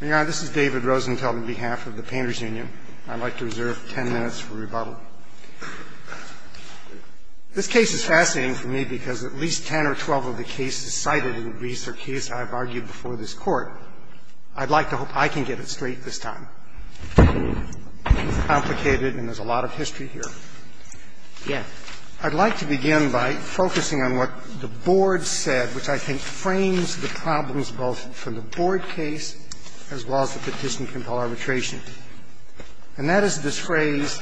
This is David Rosenthal on behalf of the Painters Union. I'd like to reserve 10 minutes for rebuttal. This case is fascinating for me because at least 10 or 12 of the cases cited in the briefs are cases I've argued before this Court. I'd like to hope I can get it straight this time. It's complicated and there's a lot of history here. I'd like to begin by focusing on what the Board said, which I think frames the problems both from the Board case as well as the petition for arbitration. And that is the disgrace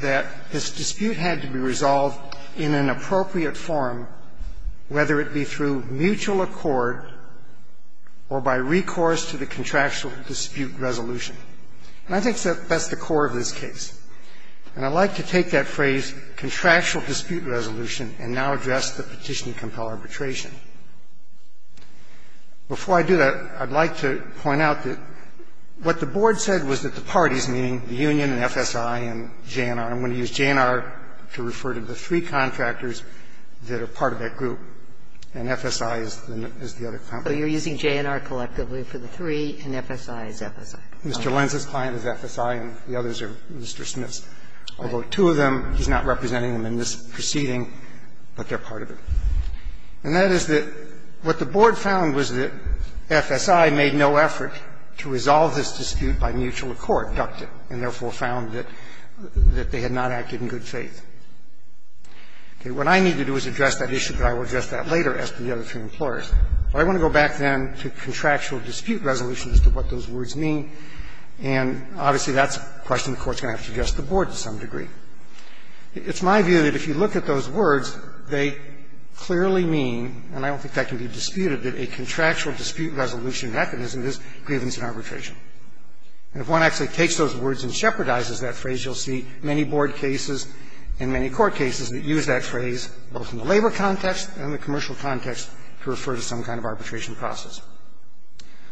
that this dispute had to be resolved in an appropriate form, whether it be through mutual accord or by recourse to the contractual dispute resolution. And I think that's the core of this case. And I'd like to take that phrase, contractual dispute resolution, and now address the petition to compel arbitration. Before I do that, I'd like to point out that what the Board said was that the parties, meaning the union and FSI and JNR, I'm going to use JNR to refer to the three contractors that are part of that group, and FSI is the other contractor. So you're using JNR collectively for the three and FSI is the other contractor. Mr. Lenz is a client of FSI and the others are Mr. Smith's. Although two of them, he's not representing them in this proceeding, but they're part of it. And that is that what the Board found was that FSI made no efforts to resolve this dispute by mutual accord, ducted, and therefore found that they had not acted in good faith. What I need to do is address that issue, but I will address that later as to the other two employers. I want to go back then to contractual dispute resolution as to what those words mean, and obviously that's a question the Court's going to have to address the Board to some degree. It's my view that if you look at those words, they clearly mean, and I don't think that can be disputed, that a contractual dispute resolution mechanism is grievance and arbitration. And if one actually takes those words and shepherdizes that phrase, you'll see many Board cases and many court cases that use that phrase both in the labor context and the commercial context to refer to some kind of arbitration process.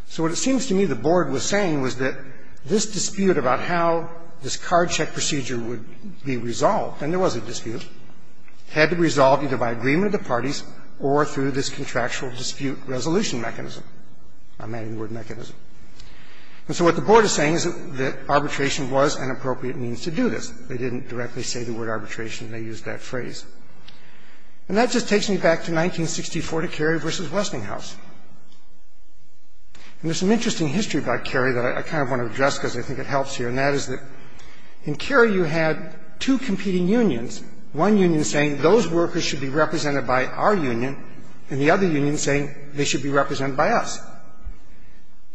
So what it seems to me the Board was saying was that this dispute about how this card check procedure would be resolved, and there was a dispute, had to be resolved either by agreement of the parties or through this contractual dispute resolution mechanism. I'm adding the word mechanism. And so what the Board is saying is that arbitration was an appropriate means to do this. They didn't directly say the word arbitration. They used that phrase. And that just takes me back to 1964 to Carey v. Westinghouse. And there's an interesting history about Carey that I kind of want to address because I think it helps here, and that is that in Carey you had two competing unions, one union saying those workers should be represented by our union, and the other union saying they should be represented by us.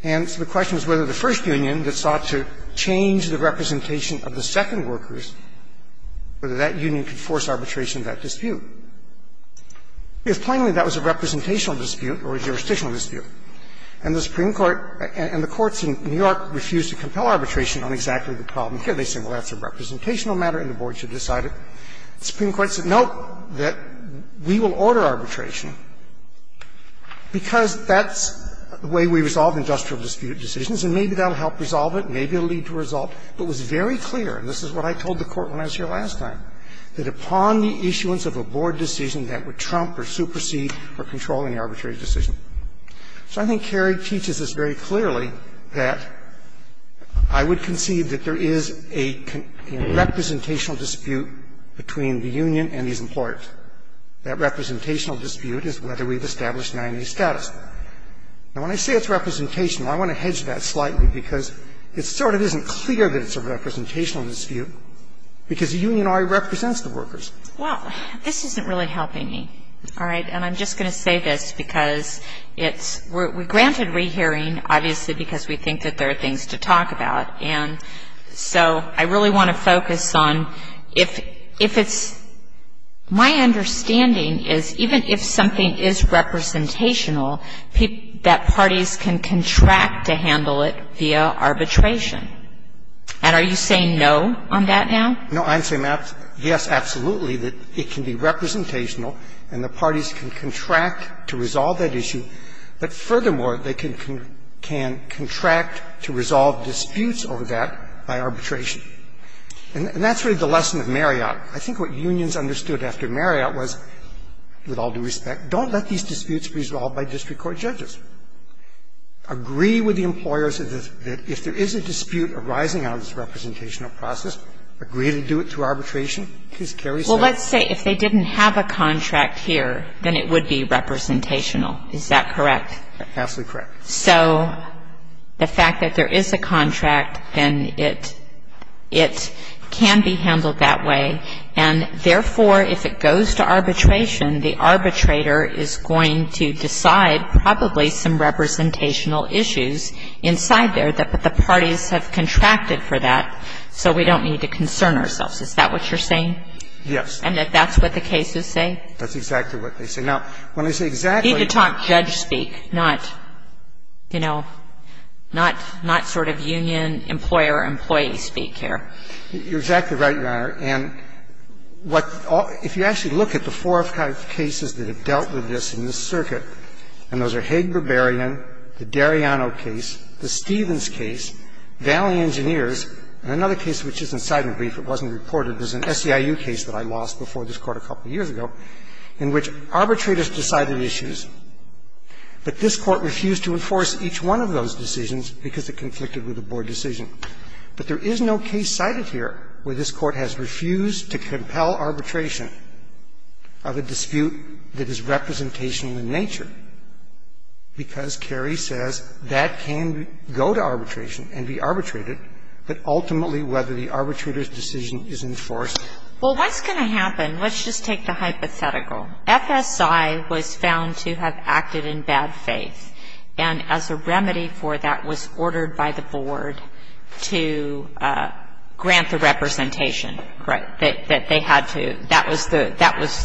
And so the question is whether the first union that sought to change the representation of the second workers, whether that union could force arbitration in that dispute. If finally that was a representational dispute or a jurisdictional dispute and the Supreme Court and the courts in New York refused to compel arbitration on exactly the problem, here they say, well, that's a representational matter and the Board should decide it. The Supreme Court said, nope, that we will order arbitration because that's the way we resolve industrial dispute decisions and maybe that will help resolve it, maybe it will lead to a result. But it was very clear, and this is what I told the Court when I was here last time, that upon the issuance of a Board decision that would trump or supersede or control any arbitrary decision. So I think Carey teaches us very clearly that I would conceive that there is a representational dispute between the union and these employers. That representational dispute is whether we've established 90-day status. Now, when I say it's representational, I want to hedge that slightly because it sort of isn't clear that it's a representational dispute because the union already represents the workers. Well, this isn't really helping me. All right? And I'm just going to say this because we're granted rehearing, obviously, because we think that there are things to talk about. And so I really want to focus on if it's my understanding is even if something is representational, that parties can contract to handle it via arbitration. And are you saying no on that now? No, I'm saying yes, absolutely, that it can be representational and the parties can contract to resolve that issue. But furthermore, they can contract to resolve disputes over that by arbitration. And that's really the lesson of Marriott. I think what unions understood after Marriott was, with all due respect, don't let these disputes be resolved by district court judges. Agree with the employers that if there is a dispute arising out of this representational process, agree to do it through arbitration. Please, Carey's right. Well, let's say if they didn't have a contract here, then it would be representational. Is that correct? Absolutely correct. So the fact that there is a contract and it can be handled that way, and therefore if it goes to arbitration, the arbitrator is going to decide probably some representational issues inside there that the parties have contracted for that so we don't need to concern ourselves. Is that what you're saying? Yes. And if that's what the cases say? That's exactly what they say. I think the top judge speaks, not, you know, not sort of union, employer, employee speak here. You're exactly right, Your Honor. And if you actually look at the four cases that have dealt with this in this circuit, and those are Haig-Berberian, the Dariano case, the Stevens case, Valley Engineers, and another case which is incitement brief, it wasn't reported, it was an SEIU case that I lost before this court a couple of years ago, in which arbitrators decided issues, but this court refused to enforce each one of those decisions because it conflicted with the board decision. But there is no case cited here where this court has refused to compel arbitration of a dispute that is representational in nature, because Kerry says that can go to arbitration and be arbitrated, but ultimately whether the arbitrator's decision is enforced. Well, what's going to happen? Let's just take the hypothetical. FSI was found to have acted in bad faith, and as a remedy for that was ordered by the board to grant the representation that they had to. That was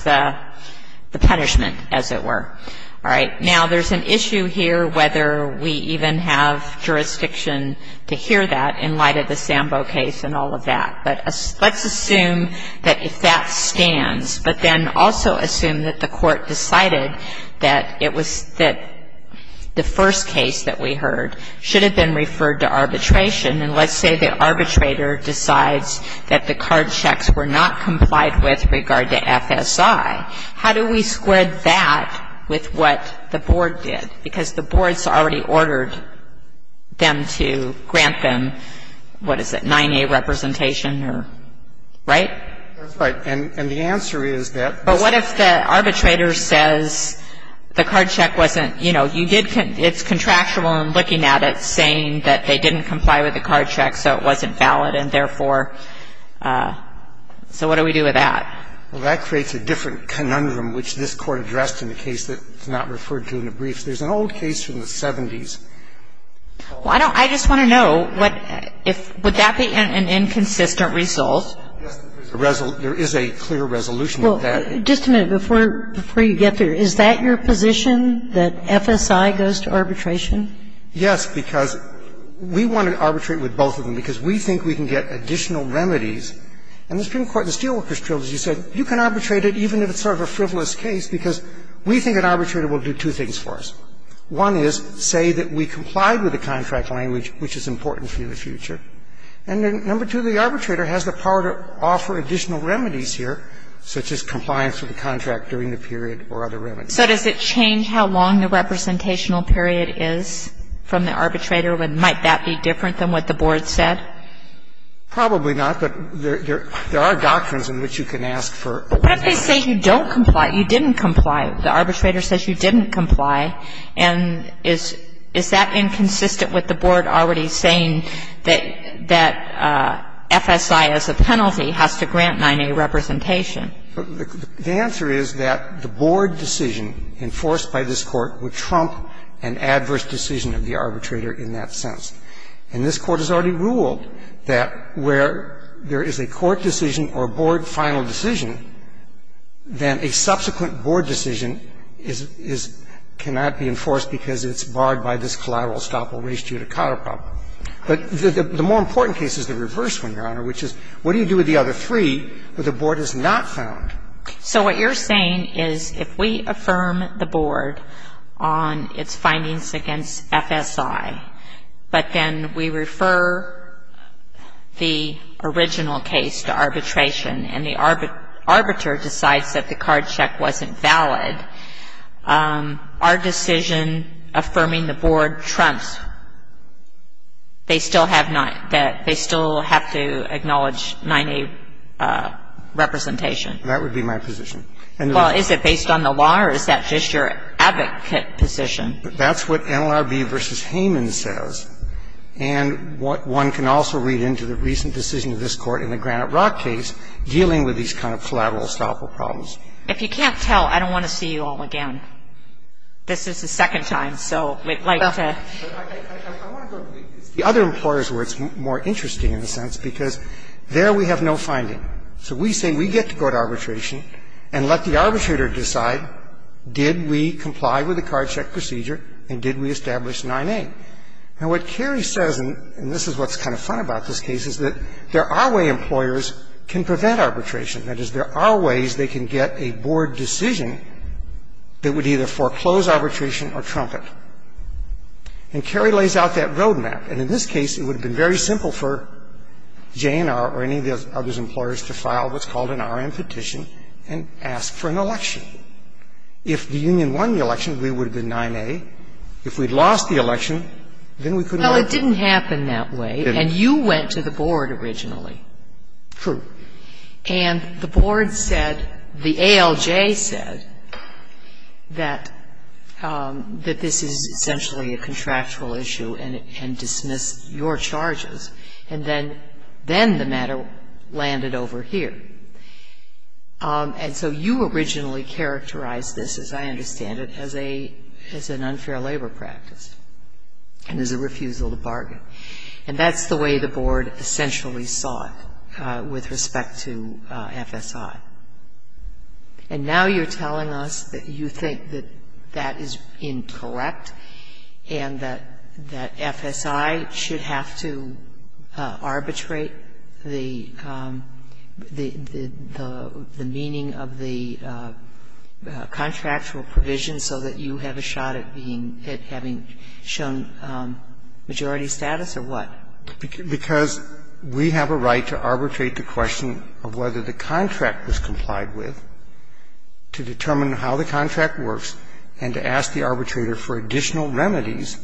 the punishment, as it were. All right. Now, there's an issue here whether we even have jurisdiction to hear that in light of the Sambo case and all of that, but let's assume that that stands, but then also assume that the court decided that it was the first case that we heard should have been referred to arbitration, and let's say the arbitrator decides that the card checks were not complied with with regard to FSI. How do we square that with what the board did? Because the board's already ordered them to grant them, what is it, 9A representation, right? Right. And the answer is that- But what if the arbitrator says the card check wasn't, you know, it's contractual in looking at it saying that they didn't comply with the card check, so it wasn't valid, and therefore, so what do we do with that? Well, that creates a different conundrum, which this Court addressed in a case that's not referred to in the brief. There's an old case from the 70s. Well, I don't – I just want to know, would that be an inconsistent result? There is a clear resolution to that. Well, just a minute before you get there. Is that your position, that FSI goes to arbitration? Yes, because we want to arbitrate with both of them because we think we can get additional remedies. And the Supreme Court in the Steelworkers Trilogy said you can arbitrate it even if it's sort of a frivolous case because we think an arbitrator will do two things for us. One is say that we complied with the contract language, which is important for you in the future. And then number two, the arbitrator has the power to offer additional remedies here, such as compliance with the contract during the period or other remedies. So does it change how long the representational period is from the arbitrator, and might that be different than what the board says? Probably not, but there are doctrines in which you can ask for. But they say you don't comply. You didn't comply. The arbitrator says you didn't comply. And is that inconsistent with the board already saying that FSI as a penalty has to grant 9A representation? The answer is that the board decision enforced by this court would trump an adverse decision of the arbitrator in that sense. And this court has already ruled that where there is a court decision or a board final decision, then a subsequent board decision cannot be enforced because it's barred by this collateral estoppel raised due to counterprop. But the more important case is the reverse one, Your Honor, which is what do you do with the other three that the board has not found? So what you're saying is if we affirm the board on its findings against FSI, but then we refer the original case to arbitration and the arbiter decides that the card check wasn't valid, our decision affirming the board trumps. They still have to acknowledge 9A representation. That would be my position. Well, is it based on the law or is that just your advocate position? That's what NLRB v. Hayman says. And one can also read into the recent decision of this court in the Granite Rock case dealing with these kind of collateral estoppel problems. If you can't tell, I don't want to see you all again. This is the second time, so like I said. I want to go to the other employers where it's more interesting, in a sense, because there we have no finding. So we say we get to go to arbitration and let the arbitrator decide, did we comply with the card check procedure and did we establish 9A? And what Carrie says, and this is what's kind of fun about this case, is that there are ways employers can prevent arbitration. That is, there are ways they can get a board decision that would either foreclose arbitration or trump it. And Carrie lays out that road map. And in this case, it would have been very simple for JNR or any of the other employers to file what's called an R.M. petition and ask for an election. If the union won the election, we would have been 9A. If we'd lost the election, then we couldn't vote. Well, it didn't happen that way, and you went to the board originally. True. And the board said, the ALJ said that this is essentially a contractual issue and dismiss your charges. And then the matter landed over here. And so you originally characterized this, as I understand it, as an unfair labor practice and as a refusal to bargain. And that's the way the board essentially thought with respect to FSI. And now you're telling us that you think that that is incorrect and that FSI should have to arbitrate the meaning of the contractual provision so that you have a shot at having shown majority status, or what? Because we have a right to arbitrate the question of whether the contract was complied with, to determine how the contract works, and to ask the arbitrator for additional remedies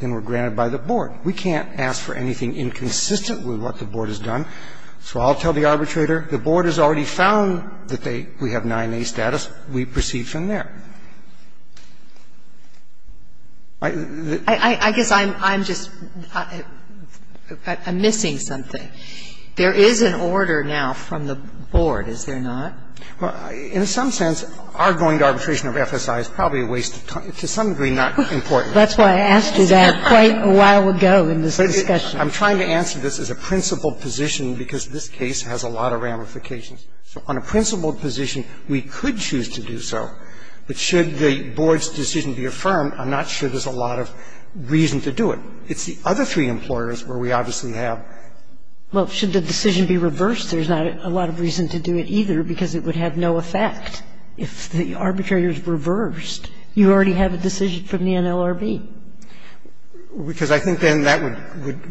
that were granted by the board. We can't ask for anything inconsistent with what the board has done. So I'll tell the arbitrator, the board has already found that we have 9A status. We proceed from there. I guess I'm just missing something. There is an order now from the board, is there not? In some sense, our going to arbitration of FSI is probably a waste of time. To some degree, not important. That's why I asked you that quite a while ago in this discussion. I'm trying to answer this as a principled position because this case has a lot of ramifications. On a principled position, we could choose to do so. But should the board's decision be affirmed, I'm not sure there's a lot of reason to do it. It's the other three employers where we obviously have. Well, should the decision be reversed, there's not a lot of reason to do it either because it would have no effect. If the arbitrator is reversed, you already have a decision from the NLRB. Because I think then that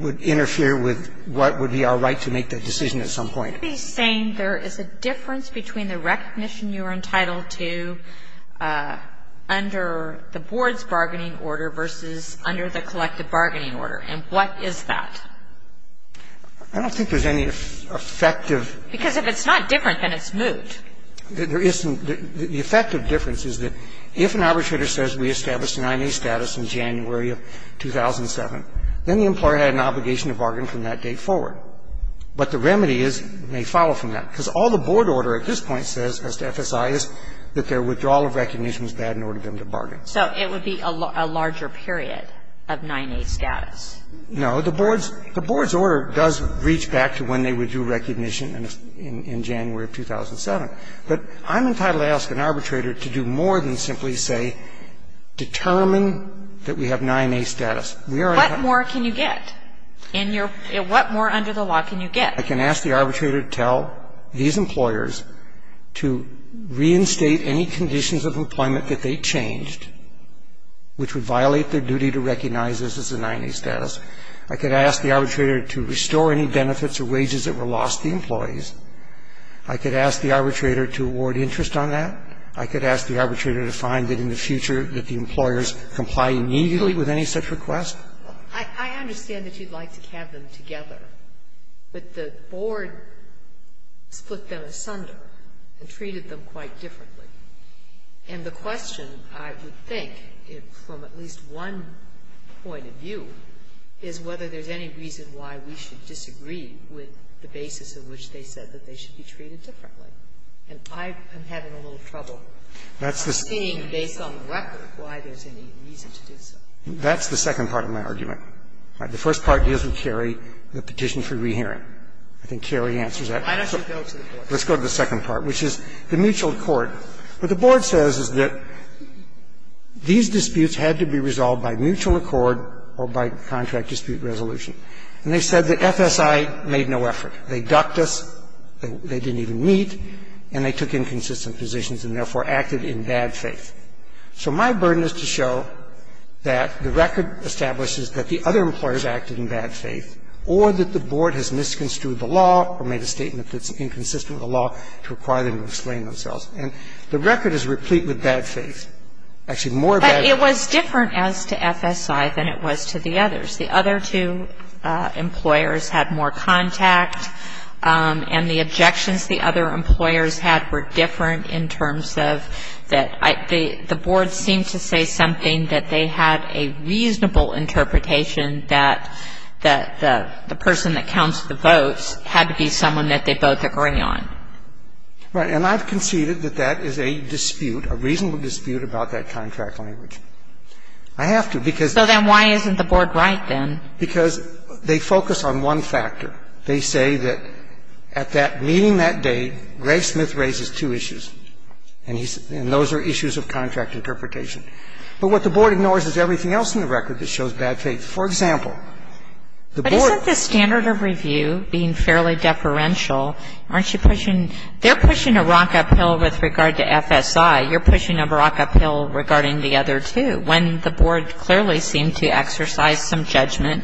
would interfere with what would be our right to make that decision at some point. I would be saying there is a difference between the recognition you're entitled to under the board's bargaining order versus under the collective bargaining order. And what is that? I don't think there's any effective. Because if it's not different, then it's moved. There isn't. The effective difference is that if an arbitrator says we established an IMA status in January of 2007, then the employer had an obligation to bargain from that date forward. But the remedy is they follow from that. Because all the board order at this point says as to FSI is that their withdrawal of recognition is bad in order for them to bargain. So it would be a larger period of 9A status. No. The board's order does reach back to when they withdrew recognition in January of 2007. But I'm entitled to ask an arbitrator to do more than simply say determine that we have 9A status. What more can you get? What more under the law can you get? I can ask the arbitrator to tell these employers to reinstate any conditions of employment that they changed, which would violate their duty to recognize this as a 9A status. I could ask the arbitrator to restore any benefits or wages that were lost to employees. I could ask the arbitrator to award interest on that. I could ask the arbitrator to find that in the future that the employers comply immediately with any such request. I understand that you'd like to have them together. But the board put them asunder and treated them quite differently. And the question, I would think, from at least one point of view, is whether there's any reason why we should disagree with the basis on which they said that they should be treated differently. And I'm having a little trouble seeing, based on the record, why there's any reason to do so. That's the second part of my argument. The first part is with Cary, the petition for rehearing. I think Cary answers that. Let's go to the second part, which is the mutual accord. What the board says is that these disputes had to be resolved by mutual accord or by contract dispute resolution. And they said that FSI made no effort. They ducked us. They didn't even meet. And they took inconsistent positions and therefore acted in bad faith. So my burden is to show that the record establishes that the other employers acted in bad faith or that the board has misconstrued the law or made a statement that's inconsistent with the law to require them to explain themselves. And the record is replete with bad faith. Actually, more bad faith. But it was different as to FSI than it was to the others. The other two employers had more contact. And the objections the other employers had were different in terms of that the board seemed to say something that they had a reasonable interpretation that the person that counts the votes had to be someone that they both agree on. Right. And I've conceded that that is a dispute, a reasonable dispute, about that contract language. I have to because- So then why isn't the board right then? Because they focus on one factor. They say that at that meeting that day, Greg Smith raises two issues. And those are issues of contract interpretation. But what the board ignores is everything else in the record that shows bad faith. For example, the board- But isn't the standard of review being fairly deferential? Aren't you pushing-they're pushing a rock uphill with regard to FSI. You're pushing a rock uphill regarding the other two. The board clearly seemed to exercise some judgment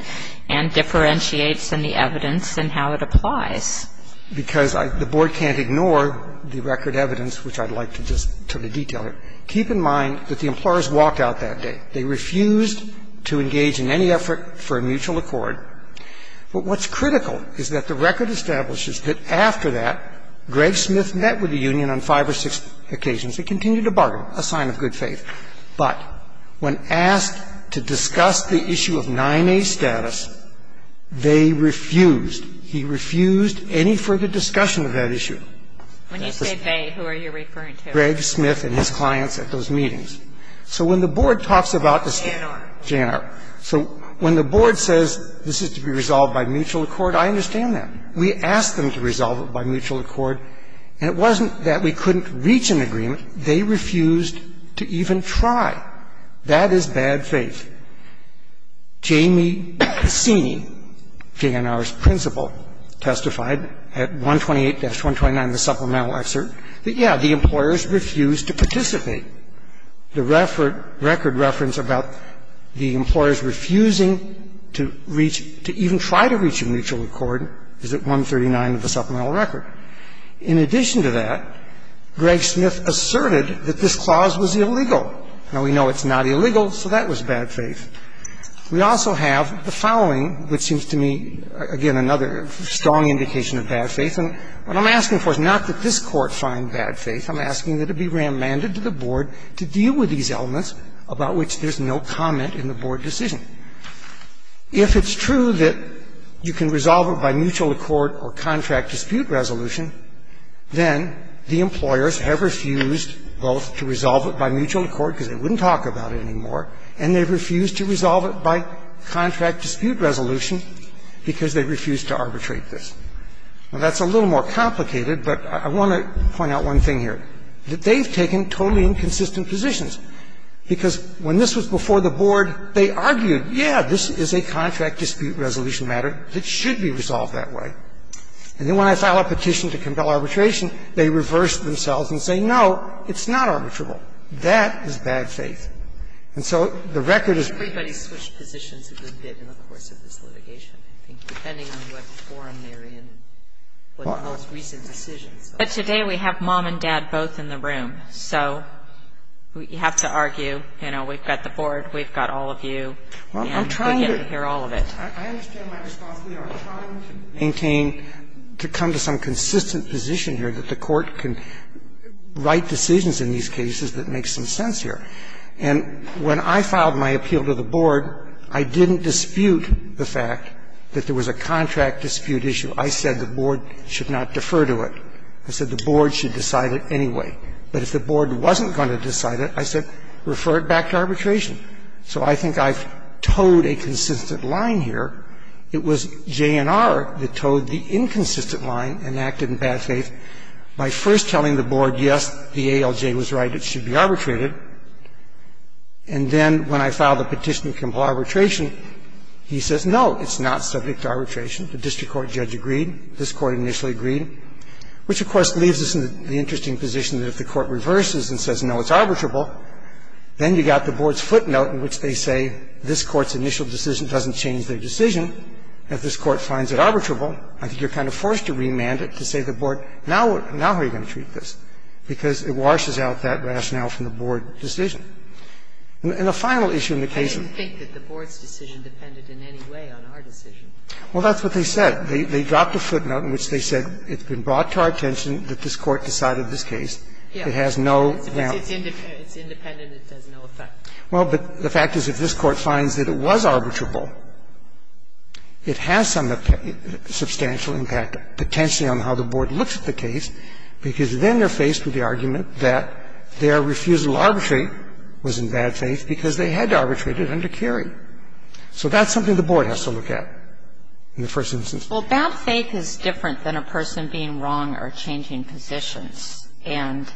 and differentiate from the evidence in how it applies. Because the board can't ignore the record evidence, which I'd like to just detail. Keep in mind that the employers walked out that day. They refused to engage in any effort for a mutual accord. But what's critical is that the record establishes that after that, Greg Smith met with the union on five or six occasions. He continued to bargain, a sign of good faith. But when asked to discuss the issue of 9A status, they refused. He refused any further discussion of that issue. When you say they, who are you referring to? Greg Smith and his clients at those meetings. So when the board talks about- JNR. JNR. So when the board says this is to be resolved by mutual accord, I understand that. We asked them to resolve it by mutual accord. And it wasn't that we couldn't reach an agreement. They refused to even try. That is bad faith. Jamie Castini, JNR's principal, testified at 128-129, the supplemental excerpt, that, yeah, the employers refused to participate. The record reference about the employers refusing to reach, to even try to reach a mutual accord is at 139 of the supplemental record. In addition to that, Greg Smith asserted that this clause was illegal. Now, we know it's not illegal, so that was bad faith. We also have the following, which seems to me, again, another strong indication of bad faith. And what I'm asking for is not that this court find bad faith. I'm asking that it be remanded to the board to deal with these elements about which there's no comment in the board decision. If it's true that you can resolve it by mutual accord or contract dispute resolution, then the employers have refused both to resolve it by mutual accord, because they wouldn't talk about it anymore, and they've refused to resolve it by contract dispute resolution because they've refused to arbitrate this. Well, that's a little more complicated, but I want to point out one thing here. And that is that they've taken totally inconsistent positions, because when this was before the board, they argued, yeah, this is a contract dispute resolution matter that should be resolved that way. And then when I filed a petition to compel arbitration, they reversed themselves and said, no, it's not arbitrable. That is bad faith. And so the record is... But today we have mom and dad both in the room, so you have to argue, you know, we've got the board, we've got all of you, and we get to hear all of it. I'm trying to maintain to come to some consistent position here that the court can write decisions in these cases that make some sense here. And when I filed my appeal to the board, I didn't dispute the fact that there was a contract dispute issue. I said the board should not defer to it. I said the board should decide it anyway. But if the board wasn't going to decide it, I said refer it back to arbitration. So I think I've towed a consistent line here. It was JNR that towed the inconsistent line and acted in bad faith by first telling the board, yes, the ALJ was right, it should be arbitrated. And then when I filed a petition for arbitration, he says, no, it's not subject to arbitration. The district court judge agreed. This court initially agreed, which, of course, leaves us in the interesting position that if the court reverses and says, no, it's arbitrable, then you've got the board's footnote in which they say this court's initial decision doesn't change their decision. If this court finds it arbitrable, I think you're kind of forced to remand it to say to the board, now we're going to treat this, because it washes out that rationale from the board's decision. And the final issue in the case of the board's decision depended in any way on our decision. Well, that's what they said. They dropped a footnote in which they said it's been brought to our attention that this court decided this case. It has no. It's independent. It has no effect. Well, but the fact is if this court finds that it was arbitrable, it has some substantial impact, potentially on how the board looks at the case, because then they're faced with the argument that their refusal to arbitrate was in bad faith, because they had to arbitrate it under Kerry. So that's something the board has to look at in the first instance. Well, bad faith is different than a person being wrong or changing positions. And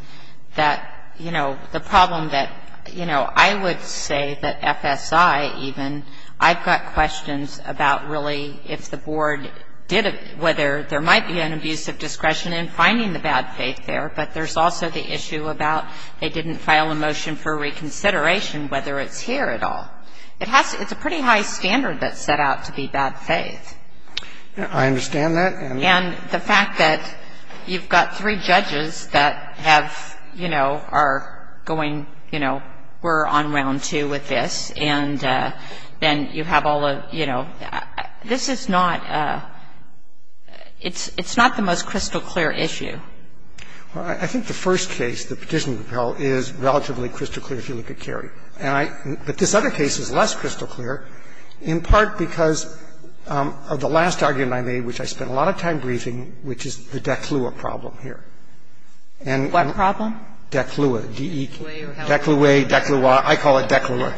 that, you know, the problem that, you know, I would say that FSI even, I've got questions about really if the board did, whether there might be an abuse of discretion in finding the bad faith there, but there's also the issue about they didn't file a motion for reconsideration, whether it's here at all. It's a pretty high standard that's set out to be bad faith. I understand that. And the fact that you've got three judges that have, you know, are going, you know, we're on round two with this, and you have all the, you know, this is not, it's not the most crystal clear issue. Well, I think the first case, the petition compel, is relatively crystal clear if you look at Kerry. But this other case is less crystal clear, in part because of the last argument I made, which I spent a lot of time briefing, which is the DECLUA problem here. What problem? DECLUA, D-E-C-L-U-A. DECLUA, DECLUA. I call it DECLUA.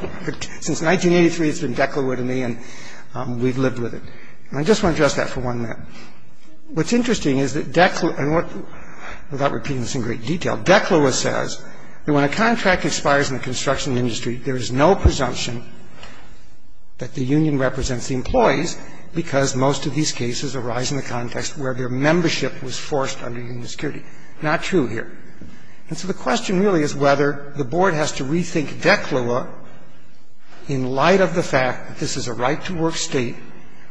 Since 1983, it's been DECLUA to me, and we've lived with it. And I just want to address that for one minute. What's interesting is that DECLUA, and without repeating this in great detail, DECLUA says that when a contract expires in the construction industry, there is no presumption that the union represents the employees because most of these cases arise in the context where their membership was forced under union security. Not true here. And so the question really is whether the board has to rethink DECLUA in light of the fact that this is a right-to-work state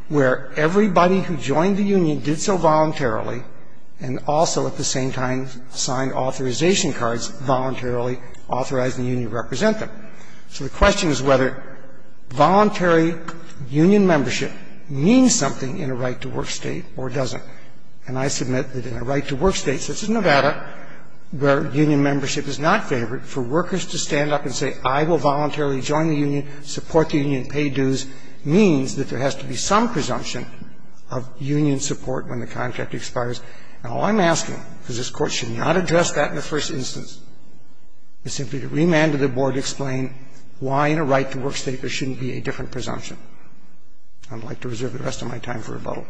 where everybody who joined the union did so voluntarily and also at the same time signed authorization cards voluntarily authorizing the union to represent them. So the question is whether voluntary union membership means something in a right-to-work state or doesn't. And I submit that in a right-to-work state such as Nevada, where union membership is not favored, for workers to stand up and say, I will voluntarily join the union, support the union, pay dues, means that there has to be some presumption of union support when the contract expires. Now, all I'm asking, because this Court should not address that in the first instance, is simply to remand to the board to explain why in a right-to-work state there shouldn't be a different presumption. I'd like to reserve the rest of my time for rebuttal.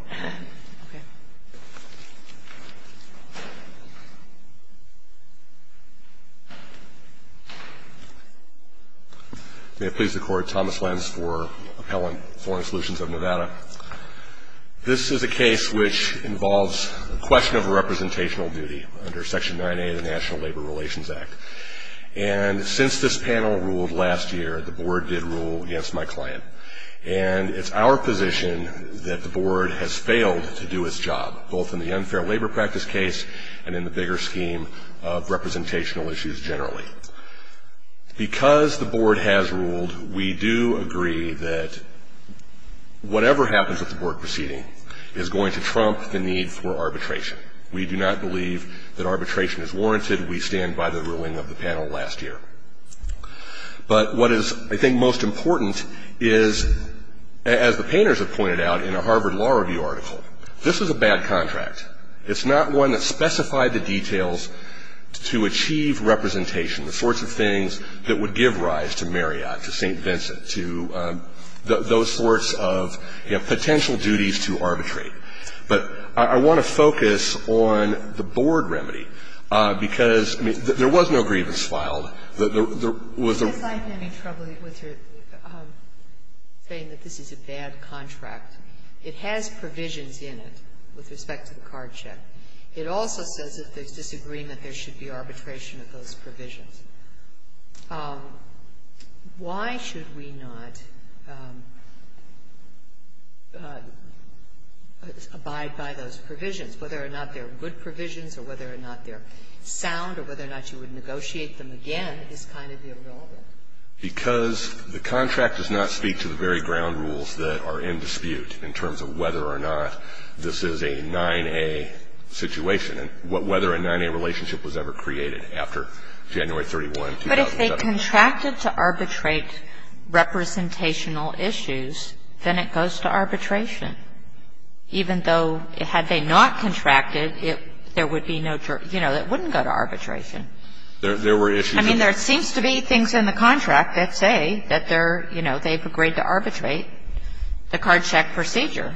May I please record Thomas Lenz for Appellant, Foreign Solutions of Nevada. This is a case which involves a question of representational duty under Section 9A of the National Labor Relations Act. And since this panel ruled last year, the board did rule against my client. And it's our position that the board has failed to do its job, both in the unfair labor practice case and in the bigger scheme of representational issues generally. Because the board has ruled, we do agree that whatever happens at the board proceeding is going to trump the need for arbitration. We do not believe that arbitration is warranted. We stand by the ruling of the panel last year. But what is, I think, most important is, as the painters have pointed out in a Harvard Law Review article, this is a bad contract. It's not one that specified the details to achieve representation, the sorts of things that would give rise to Marriott, to St. Vincent, to those sorts of potential duties to arbitrate. But I want to focus on the board remedy. Because there was no grievance filed. If I'm having trouble with her saying that this is a bad contract, it has provisions in it with respect to the card check. It also says that there's disagreement there should be arbitration of those provisions. Why should we not abide by those provisions? Whether or not they're good provisions or whether or not they're sound or whether or not you would negotiate them again is kind of irrelevant. Because the contract does not speak to the very ground rules that are in dispute in terms of whether or not this is a 9A situation and whether a 9A relationship was ever created after January 31, 2007. But if they contracted to arbitrate representational issues, then it goes to arbitration. Even though, had they not contracted, it wouldn't go to arbitration. There were issues. I mean, there seems to be things in the contract that say that they've agreed to arbitrate the card check procedure,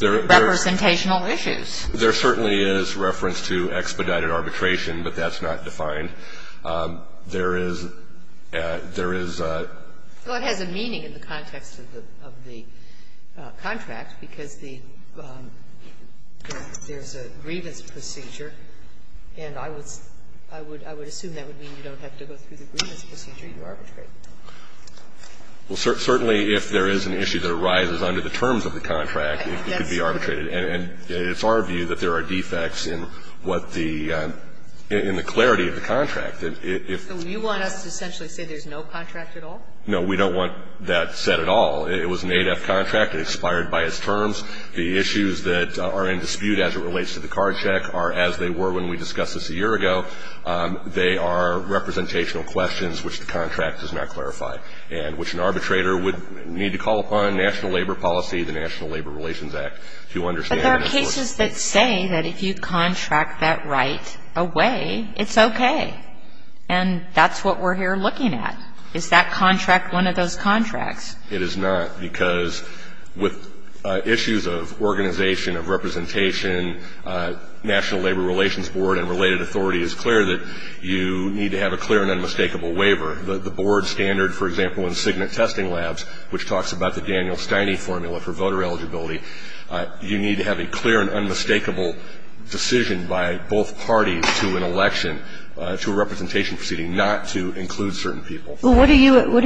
representational issues. There certainly is reference to expedited arbitration, but that's not defined. There is a... Well, it has a meaning in the context of the contract because there's a grievance procedure. And I would assume that would mean you don't have to go through the grievance procedure to arbitrate. Well, certainly if there is an issue that arises under the terms of the contract, it could be arbitrated. And it's our view that there are defects in the clarity of the contract. So you want us to essentially say there's no contract at all? No, we don't want that said at all. It was an ADEF contract. It expired by its terms. The issues that are in dispute as it relates to the card check are as they were when we discussed this a year ago. They are representational questions which the contract does not clarify and which an arbitrator would need to call upon National Labor Policy, the National Labor Relations Act to understand. But there are cases that say that if you contract that right away, it's okay. And that's what we're here looking at. Is that contract one of those contracts? It is not because with issues of organization, of representation, National Labor Relations Board and related authority is clear that you need to have a clear and unmistakable waiver. The board standard, for example, in Cigna Testing Labs, which talks about the Daniel Steining formula for voter eligibility, you need to have a clear and unmistakable decision by both parties to an election, to a representation proceeding, not to include certain people. Well, what are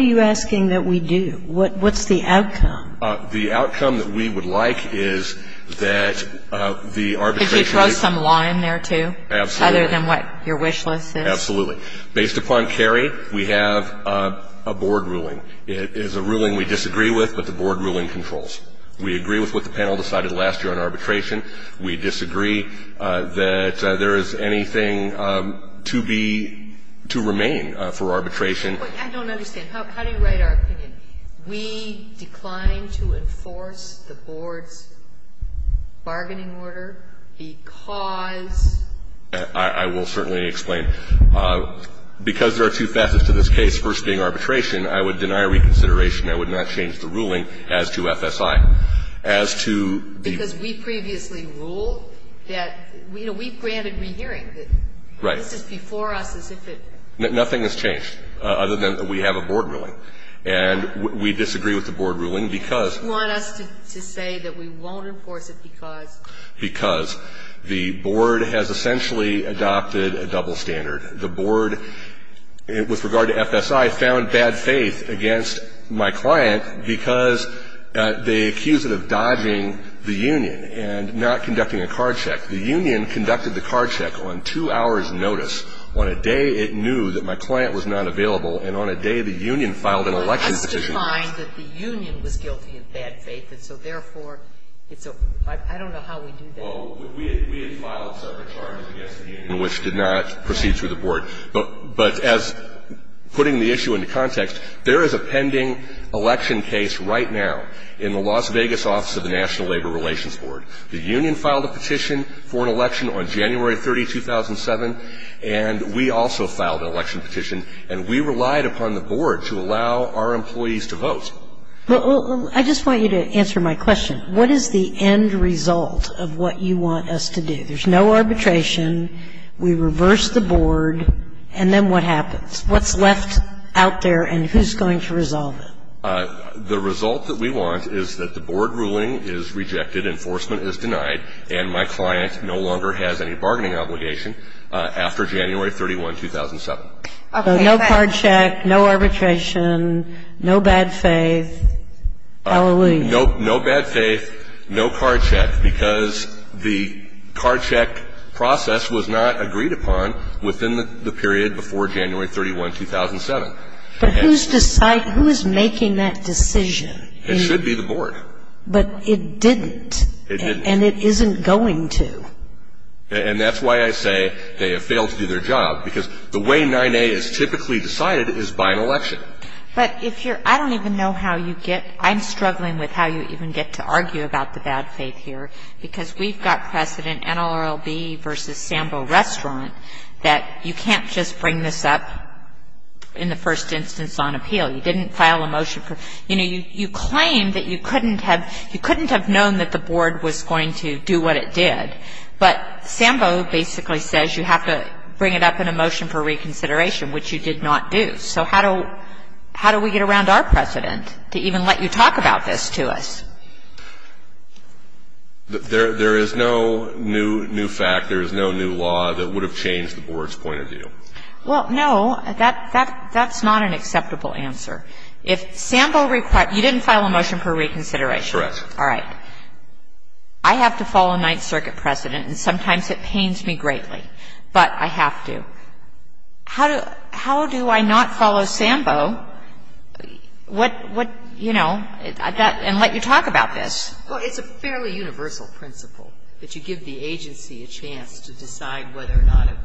you asking that we do? What's the outcome? The outcome that we would like is that the arbitration. Could you throw some law in there too? Absolutely. Other than what your wish list is? Absolutely. Based upon Cary, we have a board ruling. It is a ruling we disagree with, but the board ruling controls. We agree with what the panel decided last year on arbitration. We disagree that there is anything to be, to remain for arbitration. I don't understand. How do you write our opinion? We decline to enforce the board's bargaining order because? I will certainly explain. Because there are two facets to this case, the first being arbitration, I would deny reconsideration. I would not change the ruling as to FSI. As to the? Because we previously ruled that, you know, we granted re-hearing. Right. This is before us. Nothing has changed, other than we have a board ruling. And we disagree with the board ruling because? You want us to say that we won't enforce it because? Because the board has essentially adopted a double standard. The board, with regard to FSI, found bad faith against my client because they accused it of dodging the union and not conducting a card check. The union conducted the card check on two hours' notice. On a day it knew that my client was not available, and on a day the union filed an election petition. We find that the union was guilty of bad faith, and so, therefore, it's a? I don't know how we do that. Well, we had filed separate charges against the union. Which did not proceed through the board. But as putting the issue into context, there is a pending election case right now in the Las Vegas office of the National Labor Relations Board. The union filed a petition for an election on January 30, 2007, and we also filed an election petition. And we relied upon the board to allow our employees to vote. Well, I just want you to answer my question. What is the end result of what you want us to do? There's no arbitration, we reverse the board, and then what happens? What's left out there, and who's going to resolve it? The result that we want is that the board ruling is rejected, enforcement is denied, and my client no longer has any bargaining obligation after January 31, 2007. So, no card check, no arbitration, no bad faith, hallelujah. No bad faith, no card check, because the card check process was not agreed upon within the period before January 31, 2007. But who's making that decision? It should be the board. But it didn't. It didn't. And it isn't going to. And that's why I say they have failed to do their job, because the way 9A is typically decided is by an election. But if you're – I don't even know how you get – I'm struggling with how you even get to argue about the bad faith here, because we've got precedent, NLRLB versus Sambo Restaurant, that you can't just bring this up in the first instance on appeal. You know, you claim that you couldn't have known that the board was going to do what it did, but Sambo basically says you have to bring it up in a motion for reconsideration, which you did not do. So, how do we get around our precedent to even let you talk about this to us? There is no new fact, there is no new law that would have changed the board's point of view. Well, no, that's not an acceptable answer. If Sambo – you didn't file a motion for reconsideration. Correct. All right. I have to follow 9th Circuit precedent, and sometimes it pains me greatly, but I have to. How do I not follow Sambo and let you talk about this? Well, it's a fairly universal principle that you give the agency a chance to decide whether or not –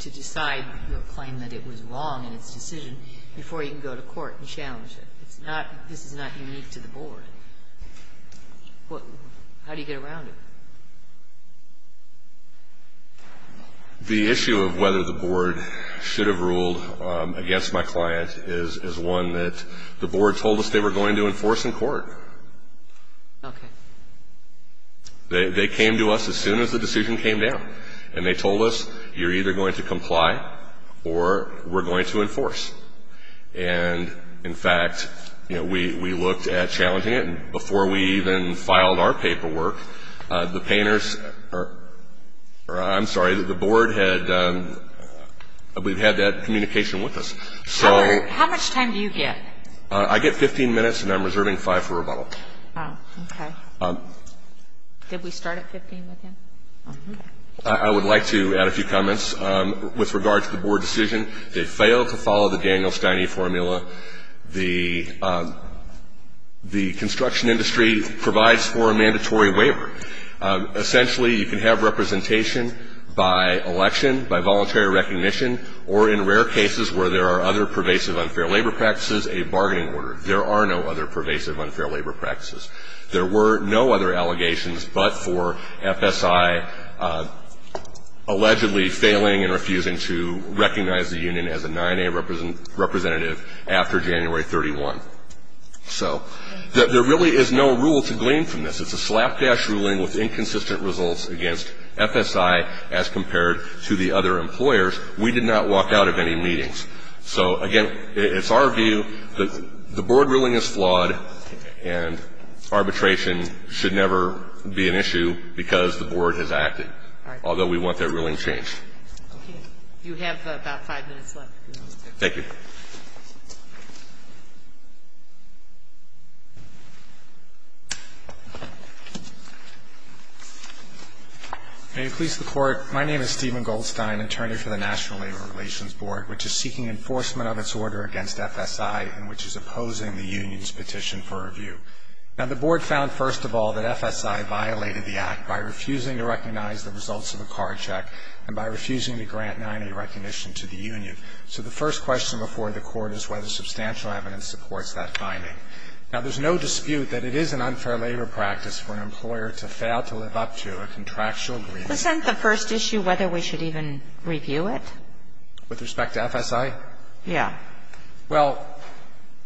to decide, you know, claim that it was wrong in its decision before you can go to court and challenge it. This is not unique to the board. How do you get around it? The issue of whether the board should have ruled against my client is one that the board told us they were going to enforce in court. Okay. They came to us as soon as the decision came down, and they told us, you're either going to comply or we're going to enforce. And, in fact, you know, we looked at challenging it, and before we even filed our paperwork, the board had that communication with us. How much time do you get? I get 15 minutes, and I'm reserving five for rebuttals. Oh, okay. Did we start at 15 minutes? I would like to add a few comments with regard to the board decision. It failed to follow the Daniel Steine formula. The construction industry provides for a mandatory waiver. Essentially, you can have representation by election, by voluntary recognition, or in rare cases where there are other pervasive unfair labor practices, a bargaining order. There are no other pervasive unfair labor practices. There were no other allegations but for FSI allegedly failing and refusing to recognize the union as a 9A representative after January 31. So there really is no rule to glean from this. It's a slapdash ruling with inconsistent results against FSI as compared to the other employers. We did not walk out of any meetings. So, again, it's our view that the board ruling is flawed, and arbitration should never be an issue because the board has acted, although we want that ruling changed. Okay. You have about five minutes left. Thank you. Can you please report? My name is Stephen Goldstein, attorney for the National Labor Relations Board, which is seeking enforcement of its order against FSI and which is opposing the union's petition for review. Now, the board found, first of all, that FSI violated the act by refusing to recognize the results of a card check and by refusing to grant 9A recognition to the union. So the first question before the court is whether substantial evidence supports that finding. Now, there's no dispute that it is an unfair labor practice for an employer to fail to live up to a contractual agreement. Does that end the first issue, whether we should even review it? With respect to FSI? Yeah. Well,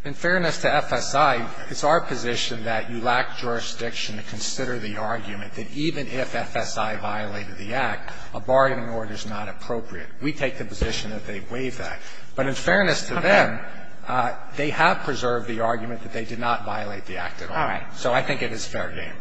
in fairness to FSI, it's our position that you lack jurisdiction to consider the argument that even if FSI violated the act, a bargaining order is not appropriate. We take the position that they waive that. But in fairness to them, they have preserved the argument that they did not violate the act at all. All right. So I think it is fair game.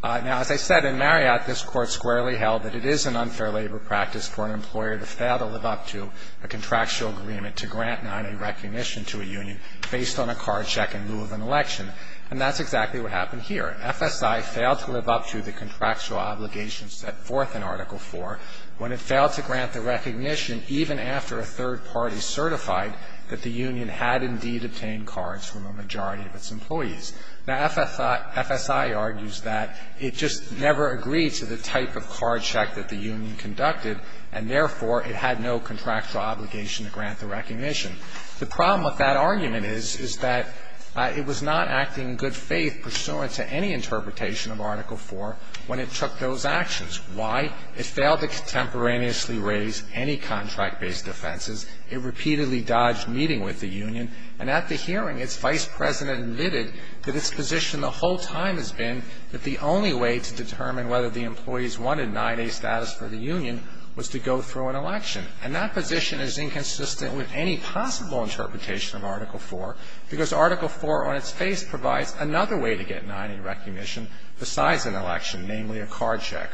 Now, as I said, in Marriott, this court squarely held that it is an unfair labor practice for an employer to fail to live up to a contractual agreement to grant 9A recognition to a union based on a card check and rule of an election. And that's exactly what happened here. FSI failed to live up to the contractual obligation set forth in Article IV when it failed to grant the recognition, even after a third party certified that the union had indeed obtained cards from a majority of its employees. Now, FSI argues that it just never agreed to the type of card check that the union conducted, and therefore it had no contractual obligation to grant the recognition. The problem with that argument is that it was not acting in good faith pursuant to any interpretation of Article IV when it took those actions. Why? It failed to contemporaneously raise any contract-based offenses. It repeatedly dodged meeting with the union. And at the hearing, its vice president admitted that its position the whole time has been that the only way to determine whether the employees wanted 9A status for the union was to go through an election. And that position is inconsistent with any possible interpretation of Article IV, because Article IV on its face provides another way to get 9A recognition besides an election, namely a card check.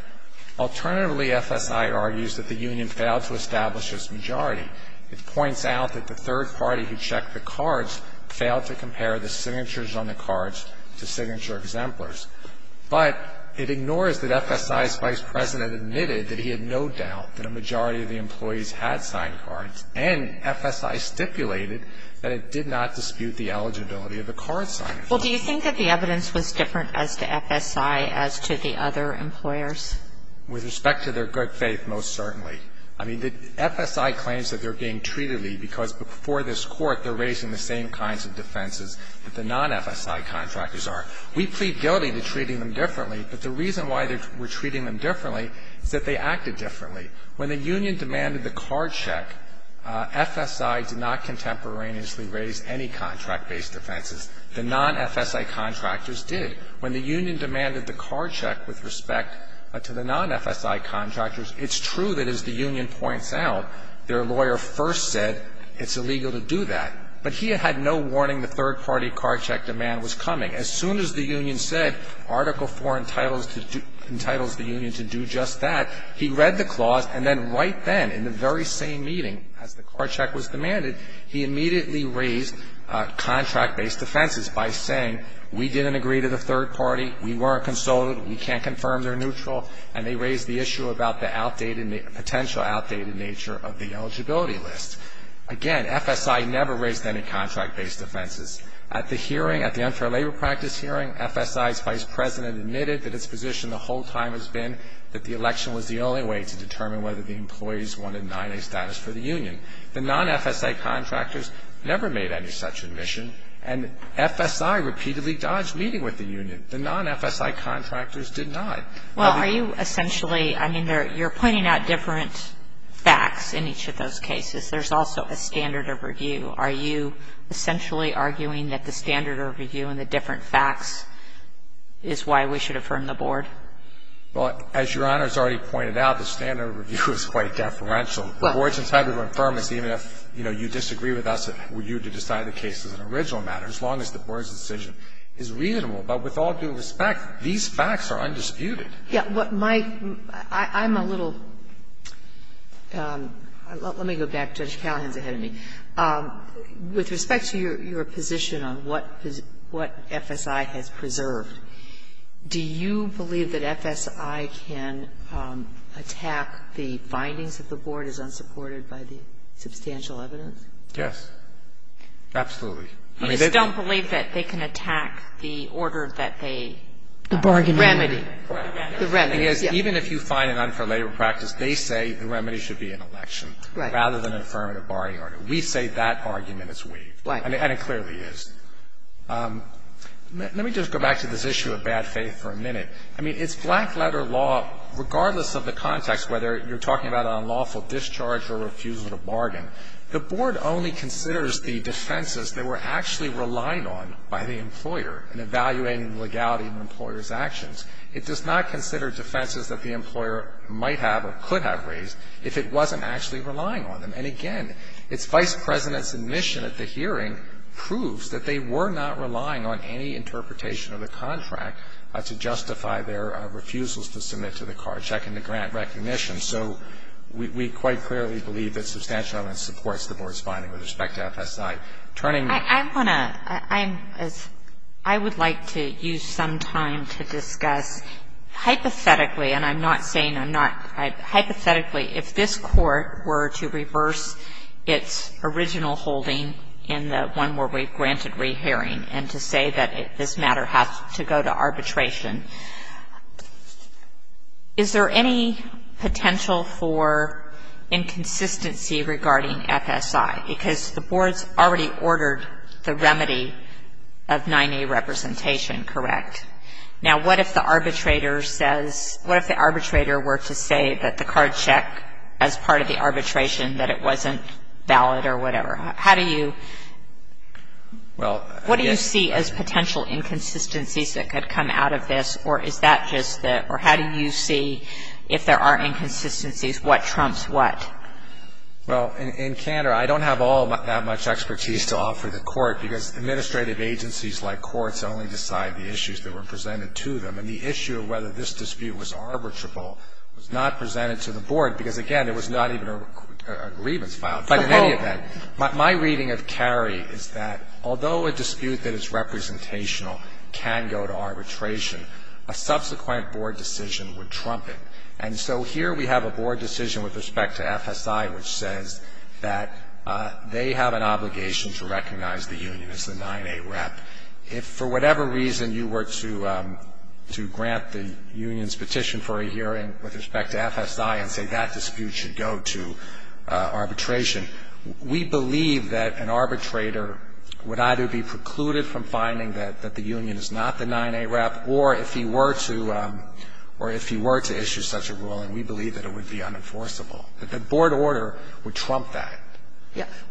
Alternatively, FSI argues that the union failed to establish its majority. It points out that the third party who checked the cards failed to compare the signatures on the cards to signature exemplars. But it ignores that FSI's vice president admitted that he had no doubt that a majority of the employees had signed cards, and FSI stipulated that it did not dispute the eligibility of the card signers. Well, do you think that the evidence was different as to FSI as to the other employers? With respect to their good faith, most certainly. I mean, the FSI claims that they're being treated because before this court, they're raising the same kinds of defenses that the non-FSI contractors are. We plead guilty to treating them differently, but the reason why we're treating them differently is that they acted differently. When the union demanded the card check, FSI did not contemporaneously raise any contract-based offenses. The non-FSI contractors did. When the union demanded the card check with respect to the non-FSI contractors, it's true that as the union points out, their lawyer first said it's illegal to do that. But he had no warning the third party card check demand was coming. As soon as the union said Article IV entitles the union to do just that, he read the clause, and then right then in the very same meeting as the card check was demanded, he immediately raised contract-based offenses by saying we didn't agree to the third party, we weren't consulted, we can't confirm they're neutral, and they raised the issue about the potential outdated nature of the eligibility list. Again, FSI never raised any contract-based offenses. At the hearing, at the unfair labor practice hearing, FSI's vice president admitted that its position the whole time has been that the election was the only way to determine whether the employees wanted to deny a status for the union. The non-FSI contractors never made any such admission, and FSI repeatedly dodged meeting with the union. The non-FSI contractors did not. Well, are you essentially, I mean, you're pointing out different facts in each of those cases. There's also a standard of review. Are you essentially arguing that the standard of review and the different facts is why we should affirm the board? Well, as Your Honor has already pointed out, the standard of review is quite deferential. The board's entitled to affirm it even if, you know, you disagree with us, would you have decided the case was an original matter, as long as the board's decision is reasonable. But with all due respect, these facts are undisputed. Yeah, what my, I'm a little, let me go back to the challenge ahead of me. With respect to your position on what FSI has preserved, do you believe that FSI can attack the findings of the board as unsupported by the substantial evidence? Yes, absolutely. I don't believe that they can attack the order that they. The bargaining. Remedy. The remedy. Even if you find it unrelatable practice, they say the remedy should be an election rather than affirming a bargaining order. We say that argument is weak. And it clearly is. Let me just go back to this issue of bad faith for a minute. I mean, it's black letter law, regardless of the context, whether you're talking about an unlawful discharge or refusal to bargain, the board only considers the defenses they were actually relying on by the employer in evaluating the legality of the employer's actions. It does not consider defenses that the employer might have or could have raised if it wasn't actually relying on them. And, again, its vice president's admission at the hearing proves that they were not relying on any interpretation of the contract to justify their refusals to submit to the card checking the grant recognition. So we quite clearly believe that substantial evidence supports the board's finding with respect to FS-9. I want to ‑‑ I would like to use some time to discuss hypothetically, and I'm not saying I'm not ‑‑ hypothetically, if this court were to reverse its original holding in the one where we granted rehearing and to say that this matter has to go to arbitration, is there any potential for inconsistency regarding FSI? Because the board's already ordered the remedy of 9A representation, correct? Now, what if the arbitrator says ‑‑ what if the arbitrator were to say that the card check, as part of the arbitration, that it wasn't valid or whatever? How do you ‑‑ what do you see as potential inconsistencies that could come out of this, or is that just the ‑‑ or how do you see, if there are inconsistencies, what trumps what? Well, in canter, I don't have all that much expertise to offer the court, because administrative agencies like courts only decide the issues that were presented to them, and the issue of whether this dispute was arbitrable was not presented to the board, because, again, it was not even a grievance file. But in any event, my reading of Cary is that although a dispute that is representational can go to arbitration, a subsequent board decision would trump it. And so here we have a board decision with respect to FSI which says that they have an obligation to recognize the union as the 9A rep. If for whatever reason you were to grant the union's petition for a hearing with respect to FSI and say that dispute should go to arbitration, we believe that an arbitrator would either be precluded from finding that the union is not the 9A rep, or if he were to issue such a ruling, we believe that it would be unenforceable. But the board order would trump that.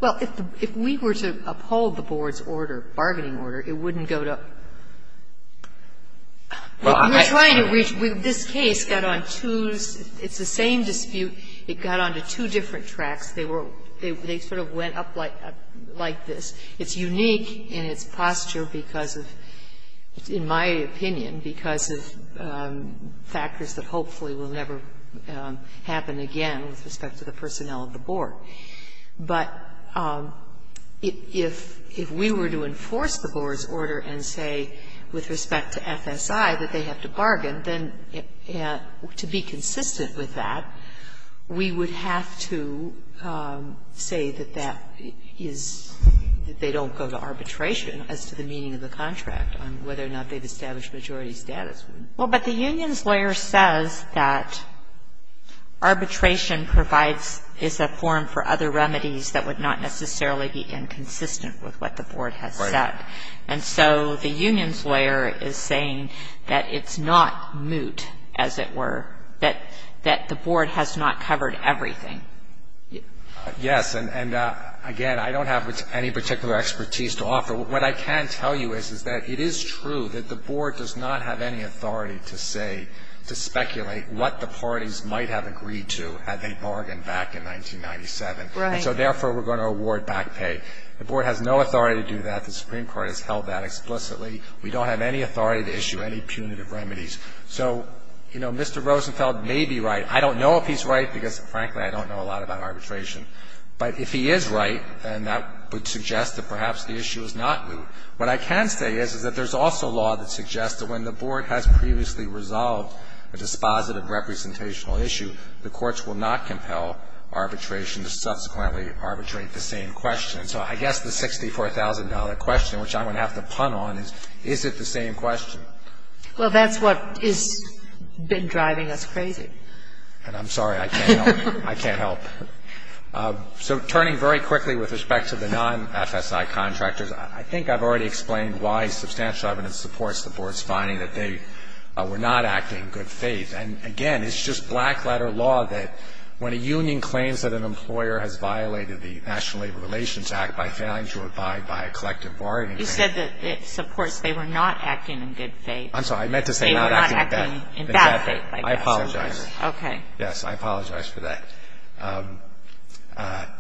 Well, if we were to uphold the board's order, bargaining order, it wouldn't go to... We're trying to reach... This case got on two... It's the same dispute. It got on the two different tracks. They were... They sort of went up like this. It's unique in its posture because of, in my opinion, because of factors that hopefully will never happen again with respect to the personnel of the board. But if we were to enforce the board's order and say with respect to FSI that they have to bargain, then to be consistent with that, we would have to say that that is, that they don't go to arbitration as to the meaning of the contract on whether or not they've established majority status. Well, but the union's lawyer says that arbitration provides, is a form for other remedies that would not necessarily be inconsistent with what the board has said. And so the union's lawyer is saying that it's not moot, as it were, that the board has not covered everything. Yes, and again, I don't have any particular expertise to offer. What I can tell you is that it is true that the board does not have any authority to say, to speculate what the parties might have agreed to had they bargained back in 1997. Right. And so therefore, we're going to award back pay. The board has no authority to do that. The Supreme Court has held that explicitly. We don't have any authority to issue any punitive remedies. So, you know, Mr. Rosenfeld may be right. I don't know if he's right because, frankly, I don't know a lot about arbitration. But if he is right, then that would suggest that perhaps the issue is not moot. What I can say is that there's also law that suggests that when the board has previously resolved a dispositive representational issue, the courts will not compel arbitration to subsequently arbitrate the same question. So I guess the $64,000 question, which I'm going to have to pun on, is, is it the same question? Well, that's what has been driving us crazy. And I'm sorry. I can't help you. I can't help. So turning very quickly with respect to the non-FSI contractors, I think I've already explained why substantial evidence supports the board's finding that they were not acting in good faith. And, again, it's just black-letter law that when a union claims that an employer has violated the National Labor Relations Act by failing to abide by a collective bargaining agreement. You said that it supports they were not acting in good faith. I'm sorry. I meant to say not acting in bad faith. In bad faith. I apologize. Okay. Yes, I apologize for that.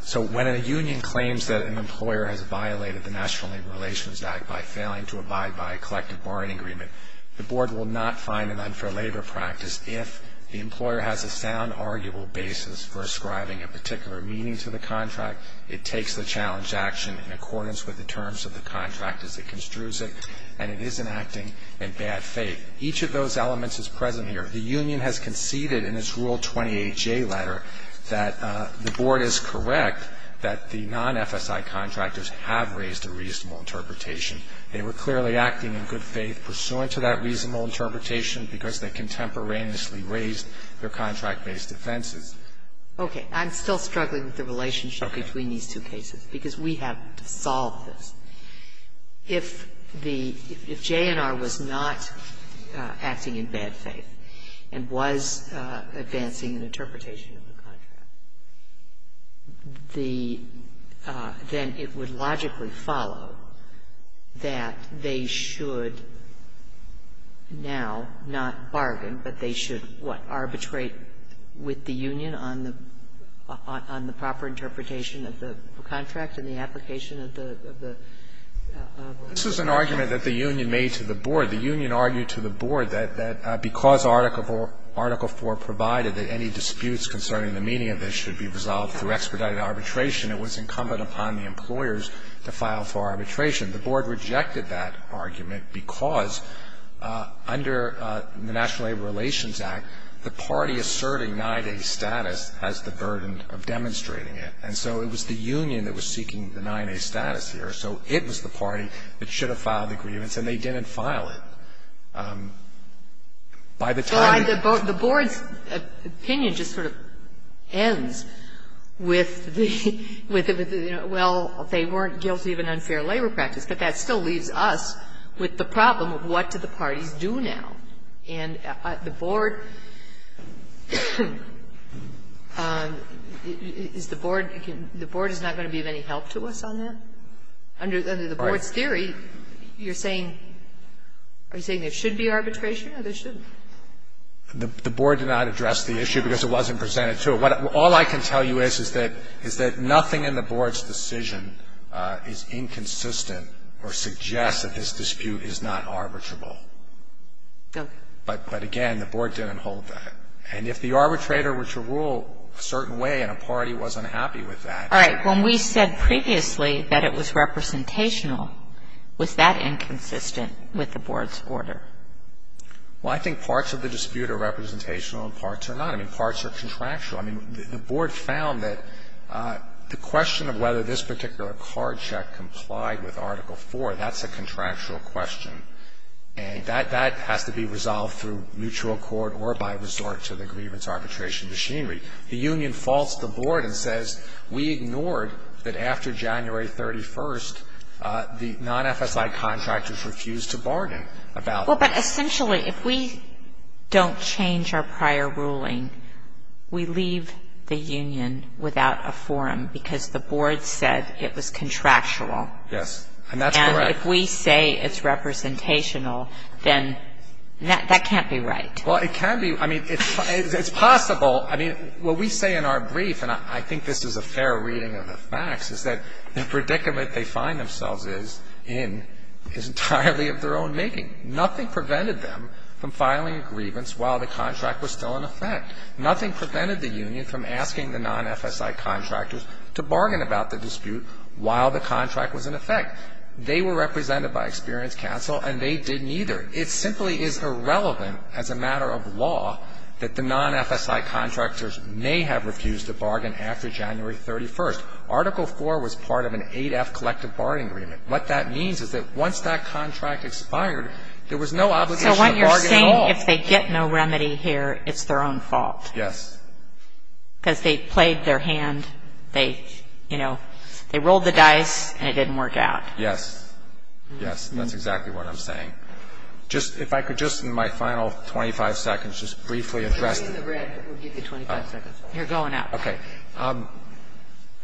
So when a union claims that an employer has violated the National Labor Relations Act by failing to abide by a collective bargaining agreement, the board will not find an unfair labor practice if the employer has a sound, arguable basis for ascribing a particular meaning to the contract. It takes the challenge action in accordance with the terms of the contract as it construes it. And it isn't acting in bad faith. Each of those elements is present here. The union has conceded in its Rule 28J letter that the board is correct that the non-FSI contractors have raised a reasonable interpretation. They were clearly acting in good faith pursuant to that reasonable interpretation because they contemporaneously raised their contract-based offenses. Okay. I'm still struggling with the relationship between these two cases because we have to solve this. If J&R was not acting in bad faith and was advancing the interpretation of the contract, then it would logically follow that they should now not bargain, but they should arbitrate with the union on the proper interpretation of the contract and the application of the contract. This is an argument that the union made to the board. The union argued to the board that because Article IV provided that any disputes concerning the meaning of this should be resolved through expedited arbitration, it was incumbent upon the employers to file for arbitration. The board rejected that argument because under the National Labor Relations Act, the party asserting 9A status has the burden of demonstrating it. And so it was the union that was seeking the 9A status here. So it was the party that should have filed the grievance, and they didn't file it. By the time- The board's opinion just sort of ends with, well, they weren't guilty of an unfair labor practice, but that still leaves us with the problem of what do the parties do now? And the board is not going to be of any help to us on that? Under the board's theory, you're saying there should be arbitration, or there shouldn't? The board did not address the issue because it wasn't presented to it. All I can tell you is that nothing in the board's decision is inconsistent or suggests that this dispute is not arbitrable. But, again, the board didn't hold that. And if the arbitrator were to rule a certain way and a party wasn't happy with that- All right. When we said previously that it was representational, was that inconsistent with the board's order? Well, I think parts of the dispute are representational and parts are not. I mean, the board found that the question of whether this particular card check complied with Article 4, that's a contractual question, and that has to be resolved through mutual accord or by resort to the grievance arbitration machinery. The union falls to the board and says, we ignored that after January 31st, the non-FSI contractors refused to bargain about- Well, but essentially, if we don't change our prior ruling, we leave the union without a forum because the board said it was contractual. Yes, and that's correct. And if we say it's representational, then that can't be right. Well, it can be. I mean, it's possible. I mean, what we say in our brief, and I think this is a fair reading of the facts, is that the predicament they find themselves in is entirely of their own making. Nothing prevented them from filing a grievance while the contract was still in effect. Nothing prevented the union from asking the non-FSI contractors to bargain about the dispute while the contract was in effect. They were represented by experienced counsel, and they didn't either. It simply is irrelevant as a matter of law that the non-FSI contractors may have refused to bargain after January 31st. Article 4 was part of an 8F collective bargaining agreement. What that means is that once that contract expired, there was no obligation to bargain at all. So what you're saying is if they get no remedy here, it's their own fault. Yes. Because they played their hand. They, you know, they rolled the dice, and it didn't work out. Yes. Yes, that's exactly what I'm saying. If I could just, in my final 25 seconds, just briefly address this. In the red, we'll give you 25 seconds. You're going up. Okay.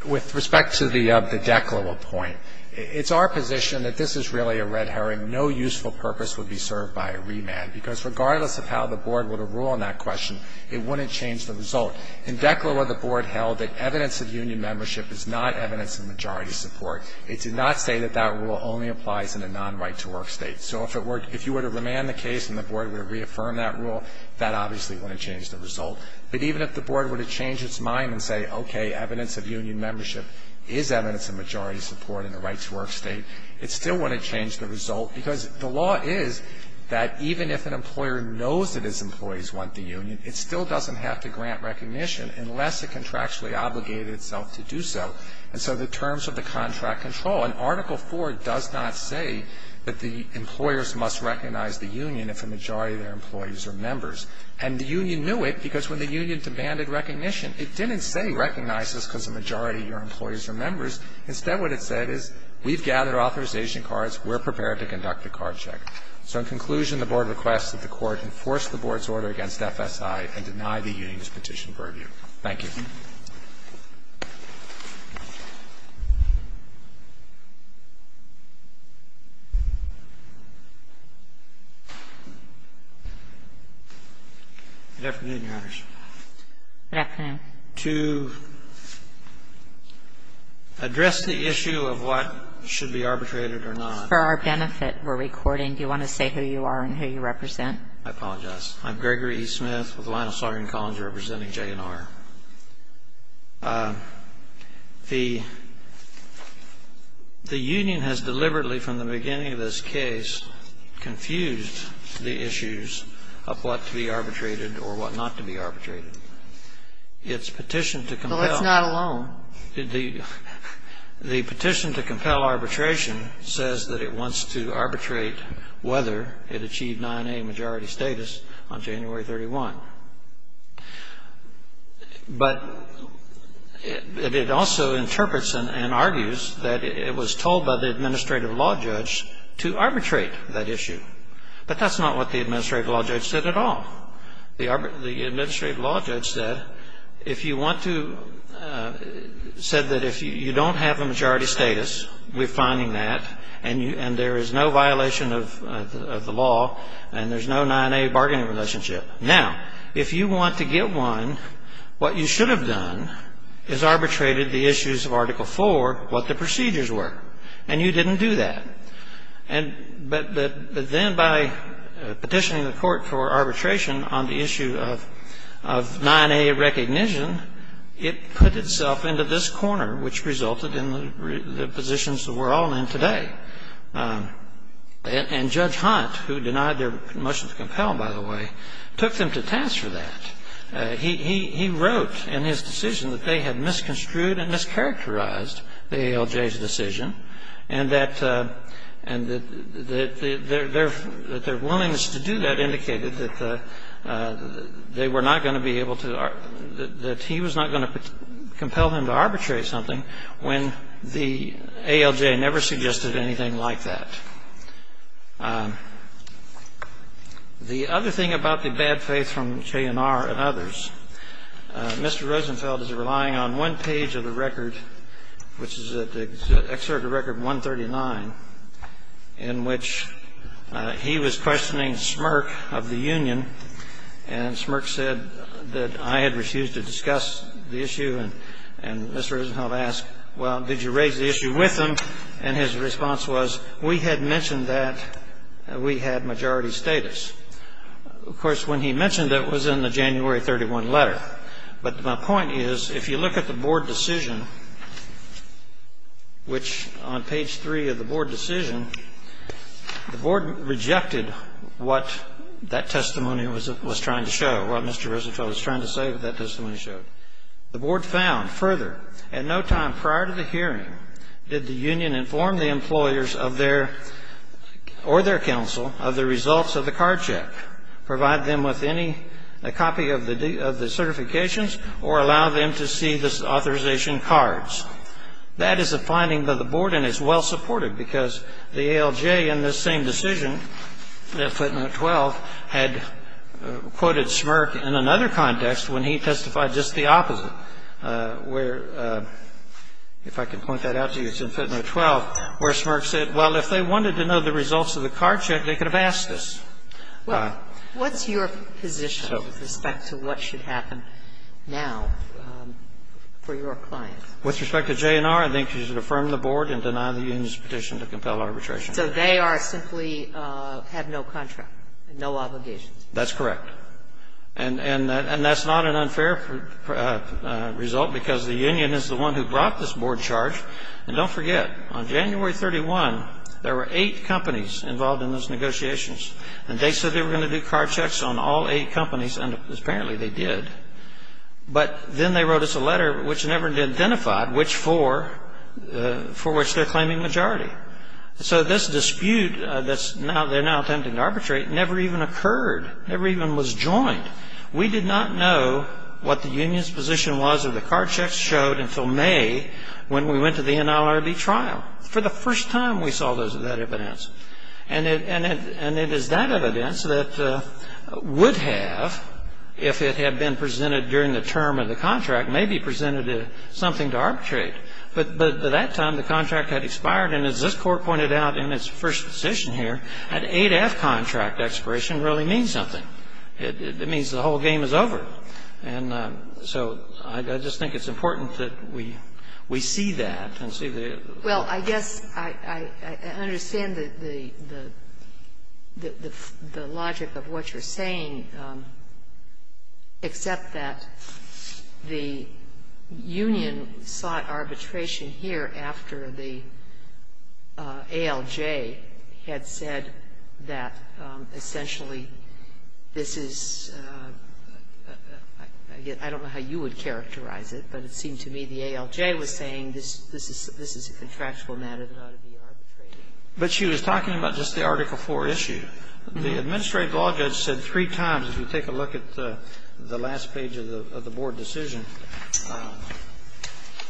With respect to the DECLA law point, it's our position that this is really a red herring. No useful purpose would be served by a remand, because regardless of how the Board would rule on that question, it wouldn't change the result. In DECLA law, the Board held that evidence of union membership is not evidence of majority support. It did not say that that rule only applies in a non-right-to-work state. So if you were to remand the case and the Board would reaffirm that rule, that obviously wouldn't change the result. But even if the Board were to change its mind and say, okay, evidence of union membership is evidence of majority support in a right-to-work state, it still wouldn't change the result. Because the law is that even if an employer knows that its employees want the union, it still doesn't have to grant recognition unless it contractually obligated itself to do so. And so the terms of the contract control. And Article 4 does not say that the employers must recognize the union if a majority of their employees are members. And the union knew it because when the union demanded recognition, it didn't say recognize us because a majority of your employees are members. Instead what it said is we've gathered authorization cards, we're prepared to conduct a card check. So in conclusion, the Board requests that the Court enforce the Board's order against FSI and deny the union's petition for review. Thank you. Good afternoon, Your Honors. Good afternoon. To address the issue of what should be arbitrated or not. For our benefit, we're recording. Do you want to say who you are and who you represent? I apologize. I'm Gregory E. Smith of the Lionel Sorenson College representing JNR. The union has deliberately, from the beginning of this case, confused the issues of what to be arbitrated or what not to be arbitrated. Its petition to compel. So let's not alone. The petition to compel arbitration says that it wants to arbitrate whether it achieved 9A majority status on January 31. But it also interprets and argues that it was told by the administrative law judge to arbitrate that issue. But that's not what the administrative law judge said at all. The administrative law judge said, if you want to, said that if you don't have a majority status, we're finding that, and there is no violation of the law, and there's no 9A bargaining relationship. Now, if you want to get one, what you should have done is arbitrated the issues of Article IV, what the procedures were. And you didn't do that. But then by petitioning the court for arbitration on the issue of 9A of recognition, it put itself into this corner, which resulted in the positions that we're all in today. And Judge Hunt, who denied their motion to compel, by the way, took them to task for that. He wrote in his decision that they had misconstrued and mischaracterized the ALJ's decision, and that their willingness to do that indicated that they were not going to be able to, that he was not going to compel them to arbitrate something when the ALJ never suggested anything like that. The other thing about the bad faith from JNR and others, Mr. Rosenfeld is relying on one page of the record, which is the excerpt of Record 139, in which he was questioning Smirk of the union, and Smirk said that I had refused to discuss the issue. And Mr. Rosenfeld asked, well, did you raise the issue with them? And his response was, we had mentioned that we had majority status. Of course, when he mentioned that, it was in the January 31 letter. But my point is, if you look at the board decision, which on page 3 of the board decision, the board rejected what that testimony was trying to show, what Mr. Rosenfeld was trying to say that that testimony showed. The board found further, at no time prior to the hearing did the union inform the employers of their, or their counsel, of the results of the card check, provide them with any copy of the certifications, or allow them to see the authorization cards. That is the finding by the board, and it's well supported, because the ALJ in this same decision, in footnote 12, had quoted Smirk in another context, when he testified just the opposite, where, if I could point that out to you, it's in footnote 12, where Smirk said, well, if they wanted to know the results of the card check, they could have asked us. What's your position with respect to what should happen now for your client? With respect to JNR, I think you should affirm the board and deny the union's petition to compel arbitration. So they are simply, have no contract, no obligations. That's correct. And that's not an unfair result, because the union is the one who brought this board charge. And don't forget, on January 31, there were eight companies involved in those negotiations. And they said they were going to do card checks on all eight companies, and apparently they did. But then they wrote us a letter, which never identified which four, for which they're claiming majority. So this dispute that they're now attempting to arbitrate never even occurred, never even was joined. We did not know what the union's position was of the card checks showed until May, when we went to the NLRB trial. For the first time, we saw that evidence. And it is that evidence that would have, if it had been presented during the term of the contract, may be presented as something to arbitrate. But by that time, the contract had expired. And as this court pointed out in its first decision here, an 8-F contract expiration really means something. It means the whole game is over. And so I just think it's important that we see that and see the... Well, I guess I understand the logic of what you're saying, except that the union sought arbitration here after the ALJ had said that essentially this is... I don't know how you would characterize it, but it seems to me the ALJ was saying this is a contractual matter that ought to be arbitrated. But she was talking about just the Article IV issue. The administrative law judge said three times, if you take a look at the last page of the board decision,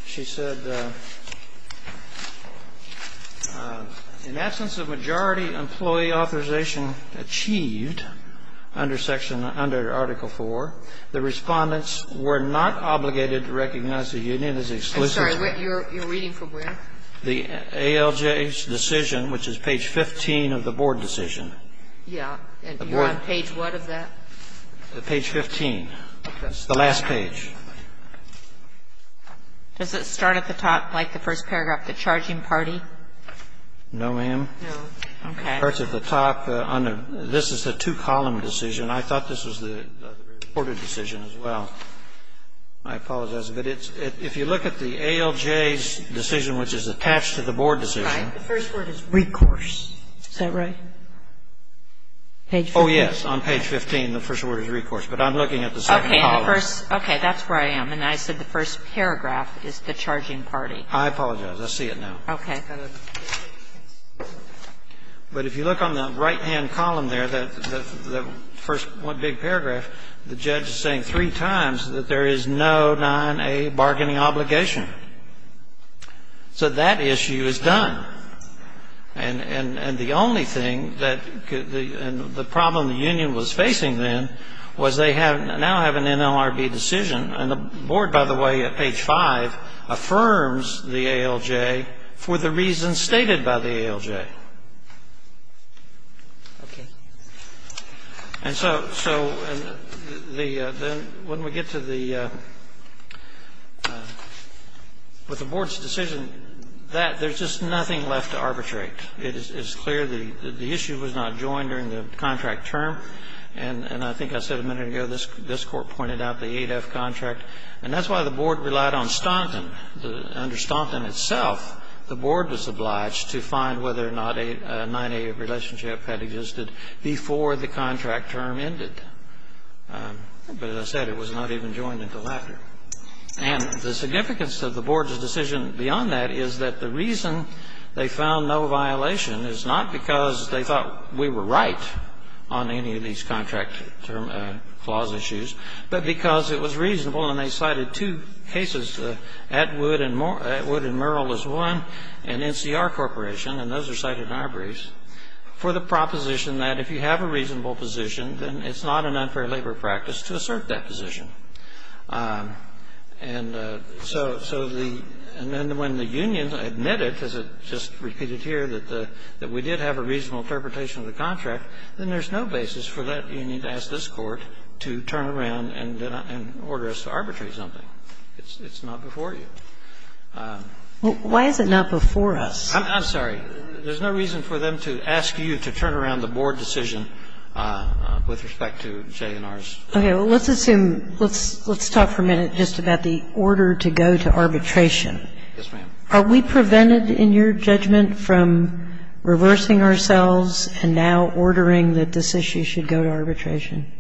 she said, in essence, the majority employee authorization achieved under Article IV, the respondents were not obligated to recognize the union as exclusively... I'm sorry, you're reading from where? The ALJ's decision, which is page 15 of the board decision. Yeah, and you're on page what of that? Page 15, the last page. Does it start at the top, like the first paragraph, the charging party? No, ma'am. No, okay. It starts at the top. This is a two-column decision. I thought this was the order decision as well. I apologize. But if you look at the ALJ's decision, which is attached to the board decision... The first word is recourse. Is that right? Page 15? Oh, yes, on page 15, the first word is recourse. But I'm looking at the second column. Okay, that's where I am. And I said the first paragraph is the charging party. I apologize. I see it now. Okay. But if you look on the right-hand column there, that first big paragraph, the judge is saying three times that there is no 9A bargaining obligation. So that issue is done. And the only thing that the problem the union was facing then was they now have an NLRB decision. And the board, by the way, at page 5, affirms the ALJ for the reasons stated by the ALJ. Okay. And so when we get to the board's decision, there's just nothing left to arbitrate. It is clear that the issue was not joined during the contract term. And I think I said a minute ago this court pointed out the 8F contract. Under Staunton itself, the board was obliged to find whether or not a 9A relationship had existed before the contract term ended. But as I said, it was not even joined in the latter. And the significance of the board's decision beyond that is that the reason they found no violation is not because they thought we were right on any of these contract clause issues, but because it was reasonable, and they cited two cases, Atwood and Merrill is one, and NCR Corporation, and those are cited in our briefs, for the proposition that if you have a reasonable position, then it's not an unfair labor practice to assert that position. And then when the union admitted, as it just repeated here, that we did have a reasonable interpretation of the contract, then there's no basis for that union to ask this court to turn around and order us to arbitrate something. It's not before you. Why is it not before us? I'm sorry. There's no reason for them to ask you to turn around the board decision with respect to J&R's. Okay. Let's assume, let's talk for a minute just about the order to go to arbitration. Yes, ma'am. Are we prevented in your judgment from reversing ourselves and now ordering that this issue should go to arbitration?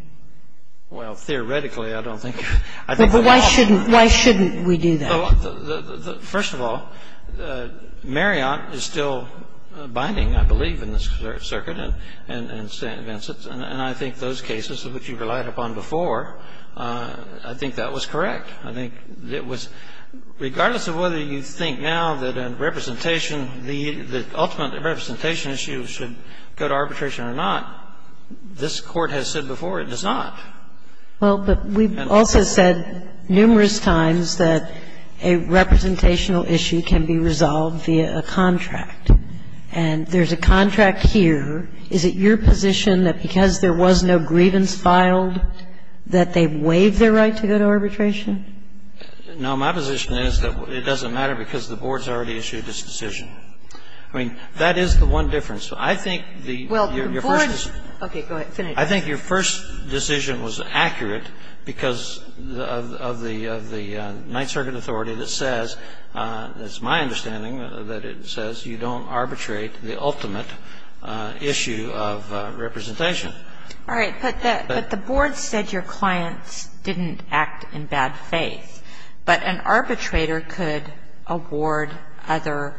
Well, theoretically, I don't think. Why shouldn't we do that? First of all, Marriott is still binding, I believe, in this circuit, and I think those cases, which you relied upon before, I think that was correct. Regardless of whether you think now that a representation, the ultimate representation issue should go to arbitration or not, this Court has said before it does not. Well, but we've also said numerous times that a representational issue can be resolved via a contract. And there's a contract here. Is it your position that because there was no grievance filed, that they waived their right to go to arbitration? No. My position is that it doesn't matter because the board's already issued this decision. I mean, that is the one difference. I think the ---- Well, the board ---- Okay. Go ahead. Finish. I think your first decision was accurate because of the Ninth Circuit authority that says, it's my understanding that it says you don't arbitrate the ultimate issue of representation. All right. But the board said your clients didn't act in bad faith. But an arbitrator could award other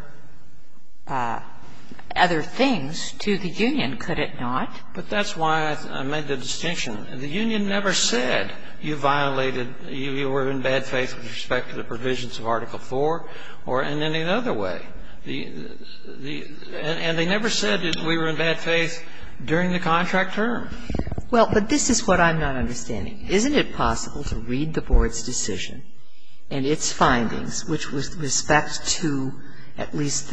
things to the union, could it not? But that's why I made the distinction. The union never said you violated, you were in bad faith with respect to the provisions of Article IV or in any other way. And they never said that we were in bad faith during the contract term. Well, but this is what I'm not understanding. Isn't it possible to read the board's decision and its findings, which with respect to at least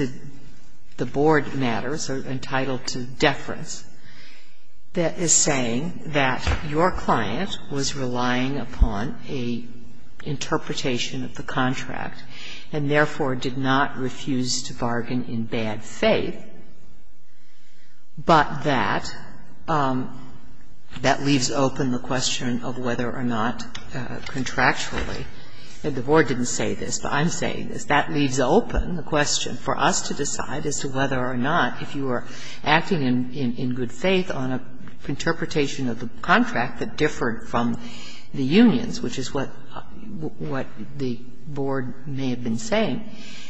the board matters, are entitled to deference, that is saying that your client was relying upon an interpretation of the contract and, therefore, did not refuse to bargain in bad faith, but that that leaves open the question of whether or not contractually ---- and the board didn't say this, but I'm saying this ---- that leaves open the question for us to decide as to whether or not if you were acting in good faith on an interpretation of the contract that differed from the union's, which is what the board may have been saying,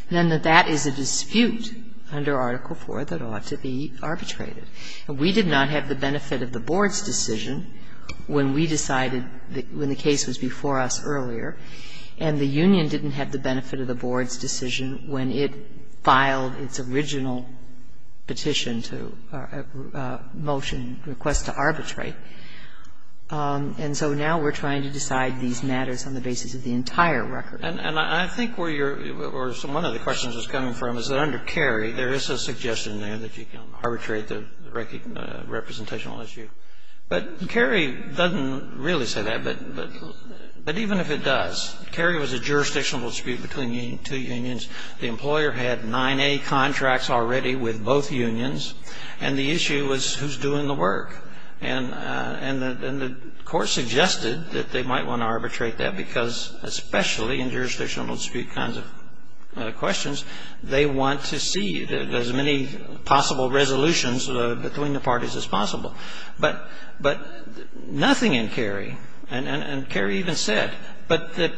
then that that is a dispute under Article IV that ought to be arbitrated. We did not have the benefit of the board's decision when we decided, when the case was before us earlier, and the union didn't have the benefit of the board's decision when it filed its original petition to motion, request to arbitrate. And so now we're trying to decide these matters on the basis of the entire record. And I think where you're ---- where one of the questions is coming from is that under Cary, there is a suggestion there that you can arbitrate the representational issue. But Cary doesn't really say that, but even if it does, Cary was a jurisdictional dispute between two unions. The employer had 9A contracts already with both unions, and the issue was who's doing the work. And the court suggested that they might want to arbitrate that because, especially in jurisdictional dispute kinds of questions, they want to see as many possible resolutions between the parties as possible. But nothing in Cary, and Cary even said, but that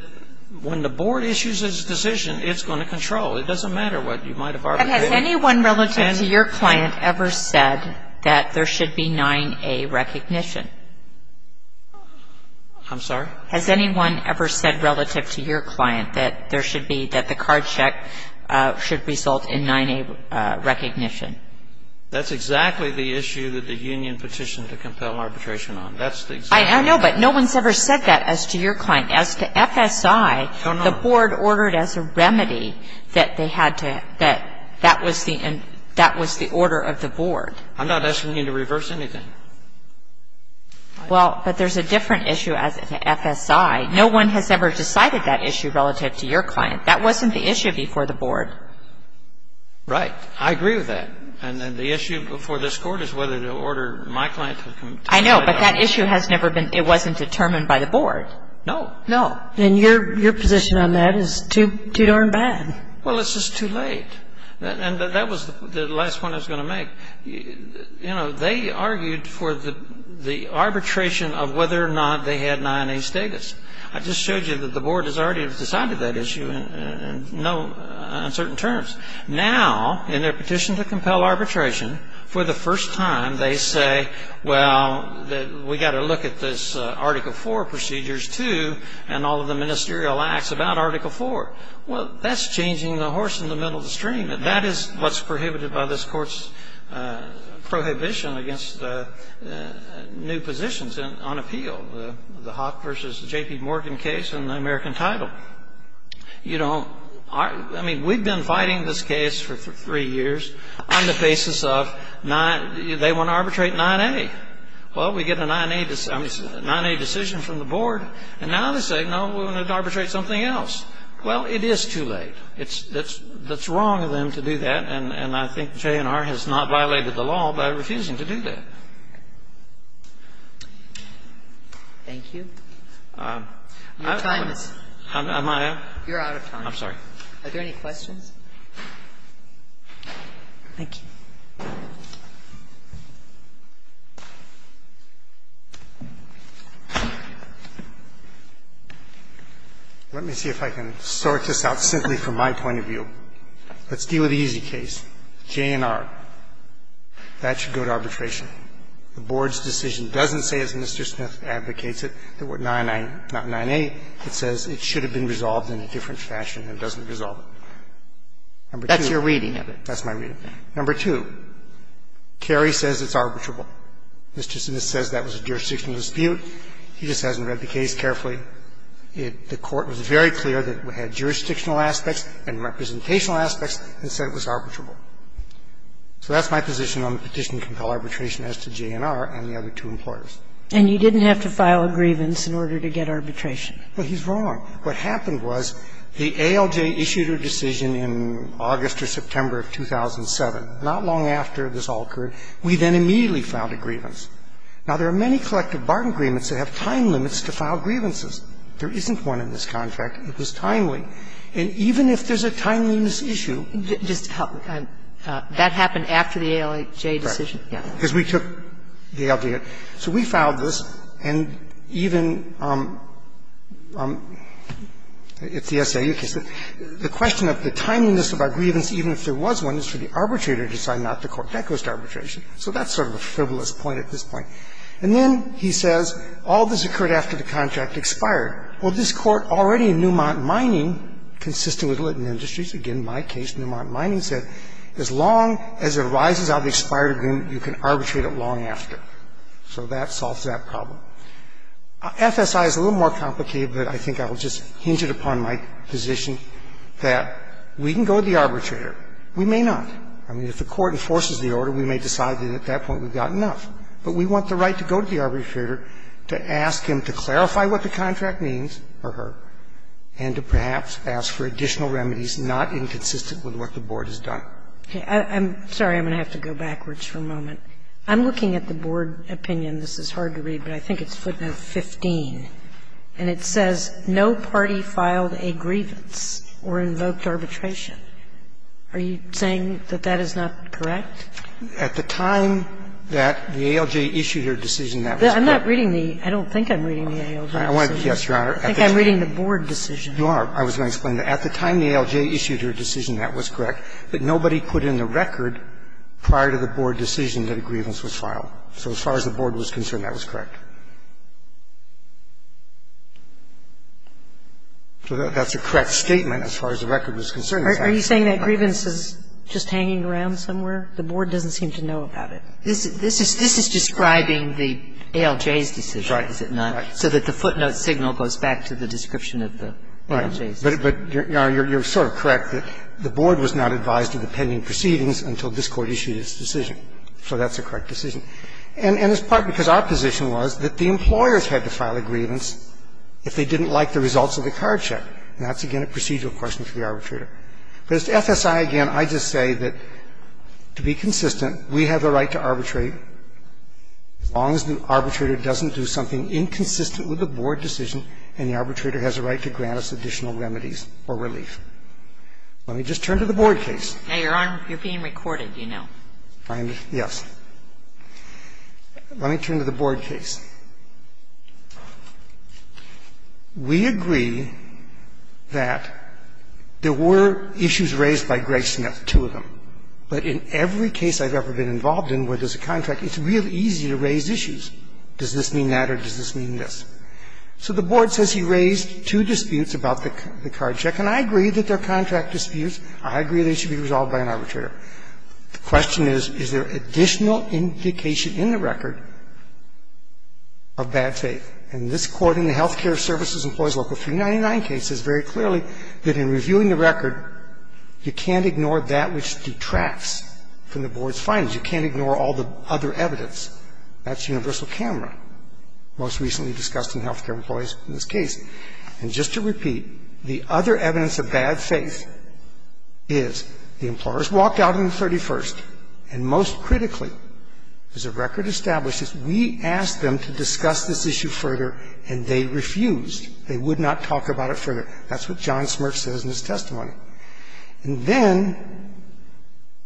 when the board issues its decision, it's going to control. It doesn't matter what you might have arbitrated. Has anyone relative to your client ever said that there should be 9A recognition? I'm sorry? Has anyone ever said relative to your client that there should be ---- that the card check should result in 9A recognition? That's exactly the issue that the union petitioned to compel arbitration on. That's the exact issue. I know, but no one's ever said that as to your client. As to FSI, the board ordered as a remedy that they had to ---- that that was the order of the board. I'm not asking you to reverse anything. Well, but there's a different issue as to FSI. No one has ever decided that issue relative to your client. That wasn't the issue before the board. Right. I agree with that. And then the issue before this court is whether to order my client to ---- I know, but that issue has never been ---- it wasn't determined by the board. No. No. And your position on that is too darn bad. Well, it's just too late. And that was the last one I was going to make. You know, they argued for the arbitration of whether or not they had 9A status. I just showed you that the board has already decided that issue in no uncertain terms. Now, in their petition to compel arbitration, for the first time, they say, well, we've got to look at this Article IV procedures, too, and all of the ministerial acts about Article IV. Well, that's changing the horse in the middle of the stream. That is what's prohibited by this court's prohibition against new positions on appeal, the Hoff v. J.P. Morgan case and the American title. You know, I mean, we've been fighting this case for three years on the basis of they want to arbitrate 9A. Well, we get a 9A decision from the board, and now they say, no, we want to arbitrate something else. Well, it is too late. It's wrong of them to do that, and I think J&R has not violated the law by refusing to do that. Thank you. You're out of time. I'm sorry. Are there any questions? Thank you. Let me see if I can sort this out simply from my point of view. Let's deal with the easy case, J&R. That should go to arbitration. Number one, the board's decision doesn't say, as Mr. Smith advocates it, that 9A, it says it should have been resolved in a different fashion. It doesn't resolve it. That's your reading of it. That's my reading. Number two, Kerry says it's arbitrable. Mr. Smith says that was a jurisdictional dispute. He just hasn't read the case carefully. The court was very clear that it had jurisdictional aspects and representational aspects and said it was arbitrable. So that's my position on the petition to compel arbitration as to J&R and the other two importance. And you didn't have to file a grievance in order to get arbitration. Well, he's wrong. What happened was the ALJ issued a decision in August or September of 2007. Not long after this all occurred, we then immediately filed a grievance. Now, there are many collective bargain agreements that have time limits to file grievances. There isn't one in this contract. It was timely. And even if there's a timeliness issue. That happened after the ALJ decision? Right. Because we took the ALJ. So we filed this, and even if the S.A. uses it, the question of the timeliness of our grievance, even if there was one, is for the arbitrator to sign off the court. That goes to arbitration. So that's sort of a frivolous point at this point. And then he says all this occurred after the contract expired. Well, this Court already in Newmont Mining consisted with Litton Industries. Again, in my case, Newmont Mining said as long as it arises out of the expired agreement, you can arbitrate it long after. So that solves that problem. FSI is a little more complicated, but I think I will just hinge it upon my position that we can go to the arbitrator. We may not. I mean, if the Court enforces the order, we may decide that at that point we've got enough. But we want the right to go to the arbitrator to ask him to clarify what the contract means for her, and to perhaps ask for additional remedies not inconsistent with what the Board has done. I'm sorry. I'm going to have to go backwards for a moment. I'm looking at the Board opinion. This is hard to read, but I think it's footnote 15. And it says no party filed a grievance or invoked arbitration. Are you saying that that is not correct? At the time that the ALJ issued her decision, that was correct. I'm not reading the ALJ. I don't think I'm reading the ALJ. I wanted to ask, Your Honor. I think I'm reading the Board decision. You are. I was going to explain that. At the time the ALJ issued her decision, that was correct, that nobody put in the record prior to the Board decision that a grievance was filed. So as far as the Board was concerned, that was correct. So that's a correct statement as far as the record was concerned. Are you saying that grievance is just hanging around somewhere? The Board doesn't seem to know about it. This is describing the ALJ's decision, is it not? Right. So that the footnote signal goes back to the description of the ALJ. Right. But, Your Honor, you're sort of correct that the Board was not advised of the pending proceedings until this Court issued its decision. So that's a correct decision. And it's partly because our position was that the employers had to file a grievance if they didn't like the results of the card check, not to get a procedural person for the arbitrator. This FSI, again, I just say that to be consistent, we have the right to arbitrate as long as the arbitrator doesn't do something inconsistent with the Board decision and the arbitrator has a right to grant us additional remedies or relief. Let me just turn to the Board case. Hey, Your Honor, you're being recorded, you know. Yes. Let me turn to the Board case. We agree that there were issues raised by Greg Smith, two of them. But in every case I've ever been involved in where there's a contract, it's really easy to raise issues. Does this mean that or does this mean this? So the Board says he raised two disputes about the card check, and I agree that they're contract disputes. I agree they should be resolved by an arbitrator. The question is, is there additional indication in the record of bad faith? And this according to Healthcare Services Employees Local 399 case is very clearly that in reviewing the record, you can't ignore that which detracts from the Board's findings. You can't ignore all the other evidence. That's universal camera, most recently discussed in Healthcare Employees in this case. And just to repeat, the other evidence of bad faith is the employers walked out on the 31st. And most critically, as the record establishes, we asked them to discuss this issue further, and they refused. They would not talk about it further. That's what John Smirks says in his testimony. And then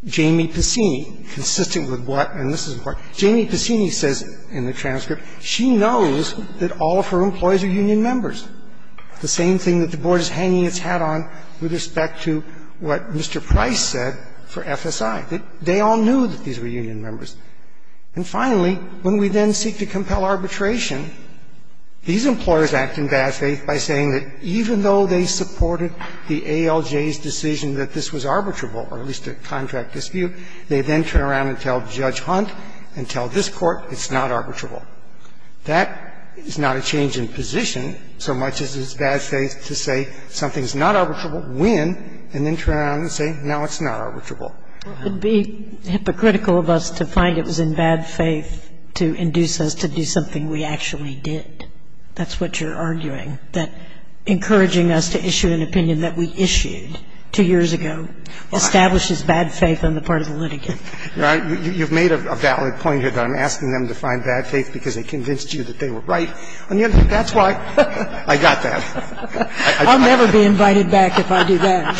Jamie Pacini, consistent with what, and this is important, Jamie Pacini says in the transcript, she knows that all of her employees are union members. The same thing that the Board is hanging its hat on with respect to what Mr. Price said for FSI. They all knew that these were union members. And finally, when we then seek to compel arbitration, these employers act in bad faith by saying that even though they supported the ALJ's decision that this was arbitrable, or at least a contract dispute, they then turn around and tell Judge Hunt and tell this court it's not arbitrable. That is not a change in position so much as it's bad faith to say something's not arbitrable, win, and then turn around and say, no, it's not arbitrable. It would be hypocritical of us to find it was in bad faith to induce us to do something we actually did. That's what you're arguing, that encouraging us to issue an opinion that we issued two years ago establishes bad faith on the part of the litigant. You know, you've made a valid point here that I'm asking them to find bad faith because they convinced you that they were right. And yet that's why I got that. I got that. I'll never be invited back if I do that.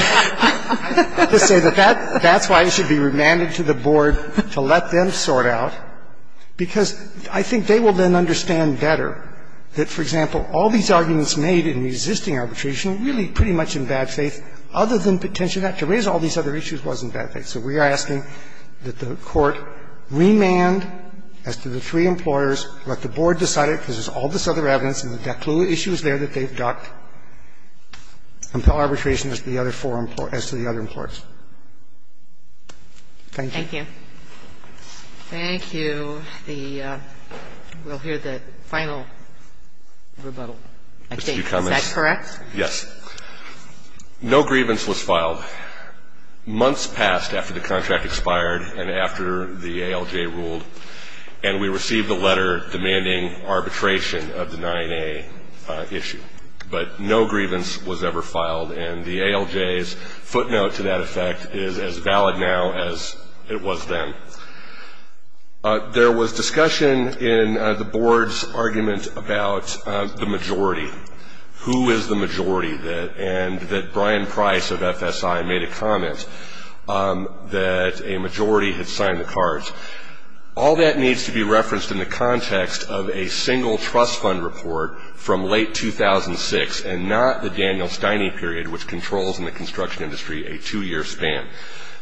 That's why you should be remanded to the Board to let them sort out, because I think they will then understand better that, for example, all these arguments made in resisting arbitration are really pretty much in bad faith, other than potentially not to raise all these other issues wasn't bad faith. So we are asking that the Court remand as to the three implorers, let the Board decide it, because there's all this other evidence, and we've got clue issues there that they've got, and file arbitration as to the other four implorers, as to the other implorers. Thank you. Thank you. Thank you. We'll hear the final rebuttal, I think. Is that correct? Yes. No grievance was filed. Months passed after the contract expired and after the ALJ ruled, and we received a letter demanding arbitration of the 9A issue. But no grievance was ever filed, and the ALJ's footnote to that effect is as valid now as it was then. There was discussion in the Board's argument about the majority. Who is the majority? And that Brian Price of FSI made a comment that a majority had signed the cards. All that needs to be referenced in the context of a single trust fund report from late 2006, and not the Daniel Steine period, which controls in the construction industry a two-year span.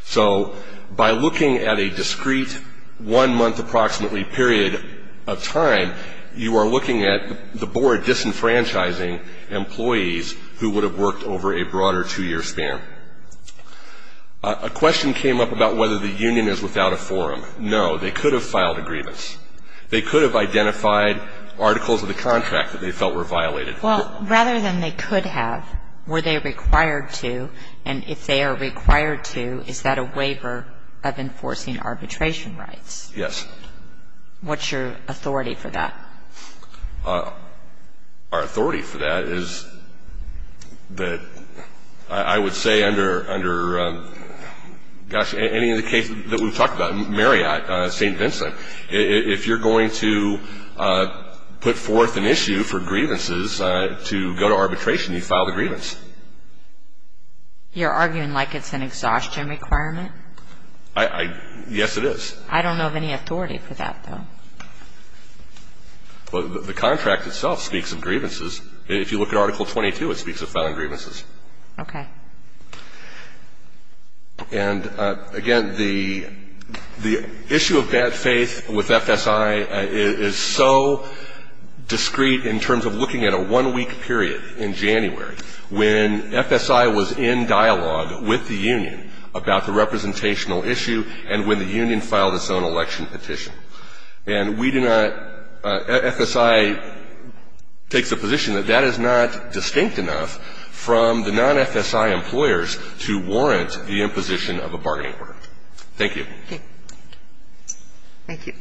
So by looking at a discrete one-month approximately period of time, you are looking at the Board disenfranchising employees who would have worked over a broader two-year span. A question came up about whether the union is without a forum. No, they could have filed a grievance. They could have identified articles of the contract that they felt were violated. Well, rather than they could have, were they required to? And if they are required to, is that a waiver of enforcing arbitration rights? Yes. What's your authority for that? Our authority for that is that I would say under any of the cases that we've talked about, Marriott, St. Vincent, if you're going to put forth an issue for grievances to go to arbitration, you file the grievance. You're arguing like it's an exhaustion requirement? Yes, it is. I don't know of any authority for that, though. Well, the contract itself speaks of grievances. If you look at Article 22, it speaks of filing grievances. Okay. And, again, the issue of bad faith with FSI is so discrete in terms of looking at a one-week period in January, when FSI was in dialogue with the union about the representational issue and when the union filed its own election petition. And we do not at FSI take the position that that is not distinct enough from the non-FSI employers to warrant the imposition of a bargaining order. Thank you. Thank you.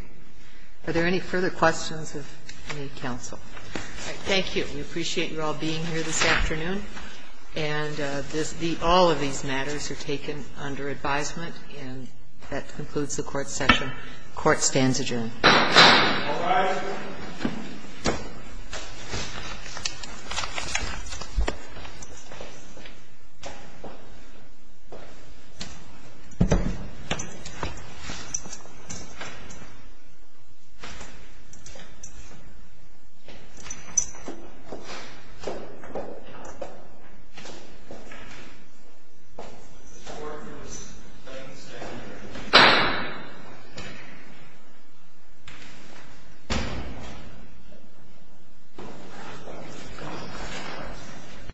Are there any further questions of any counsel? Thank you. We appreciate you all being here this afternoon. And all of these matters are taken under advisement. And that concludes the court session. Court stands adjourned. All rise. Thank you.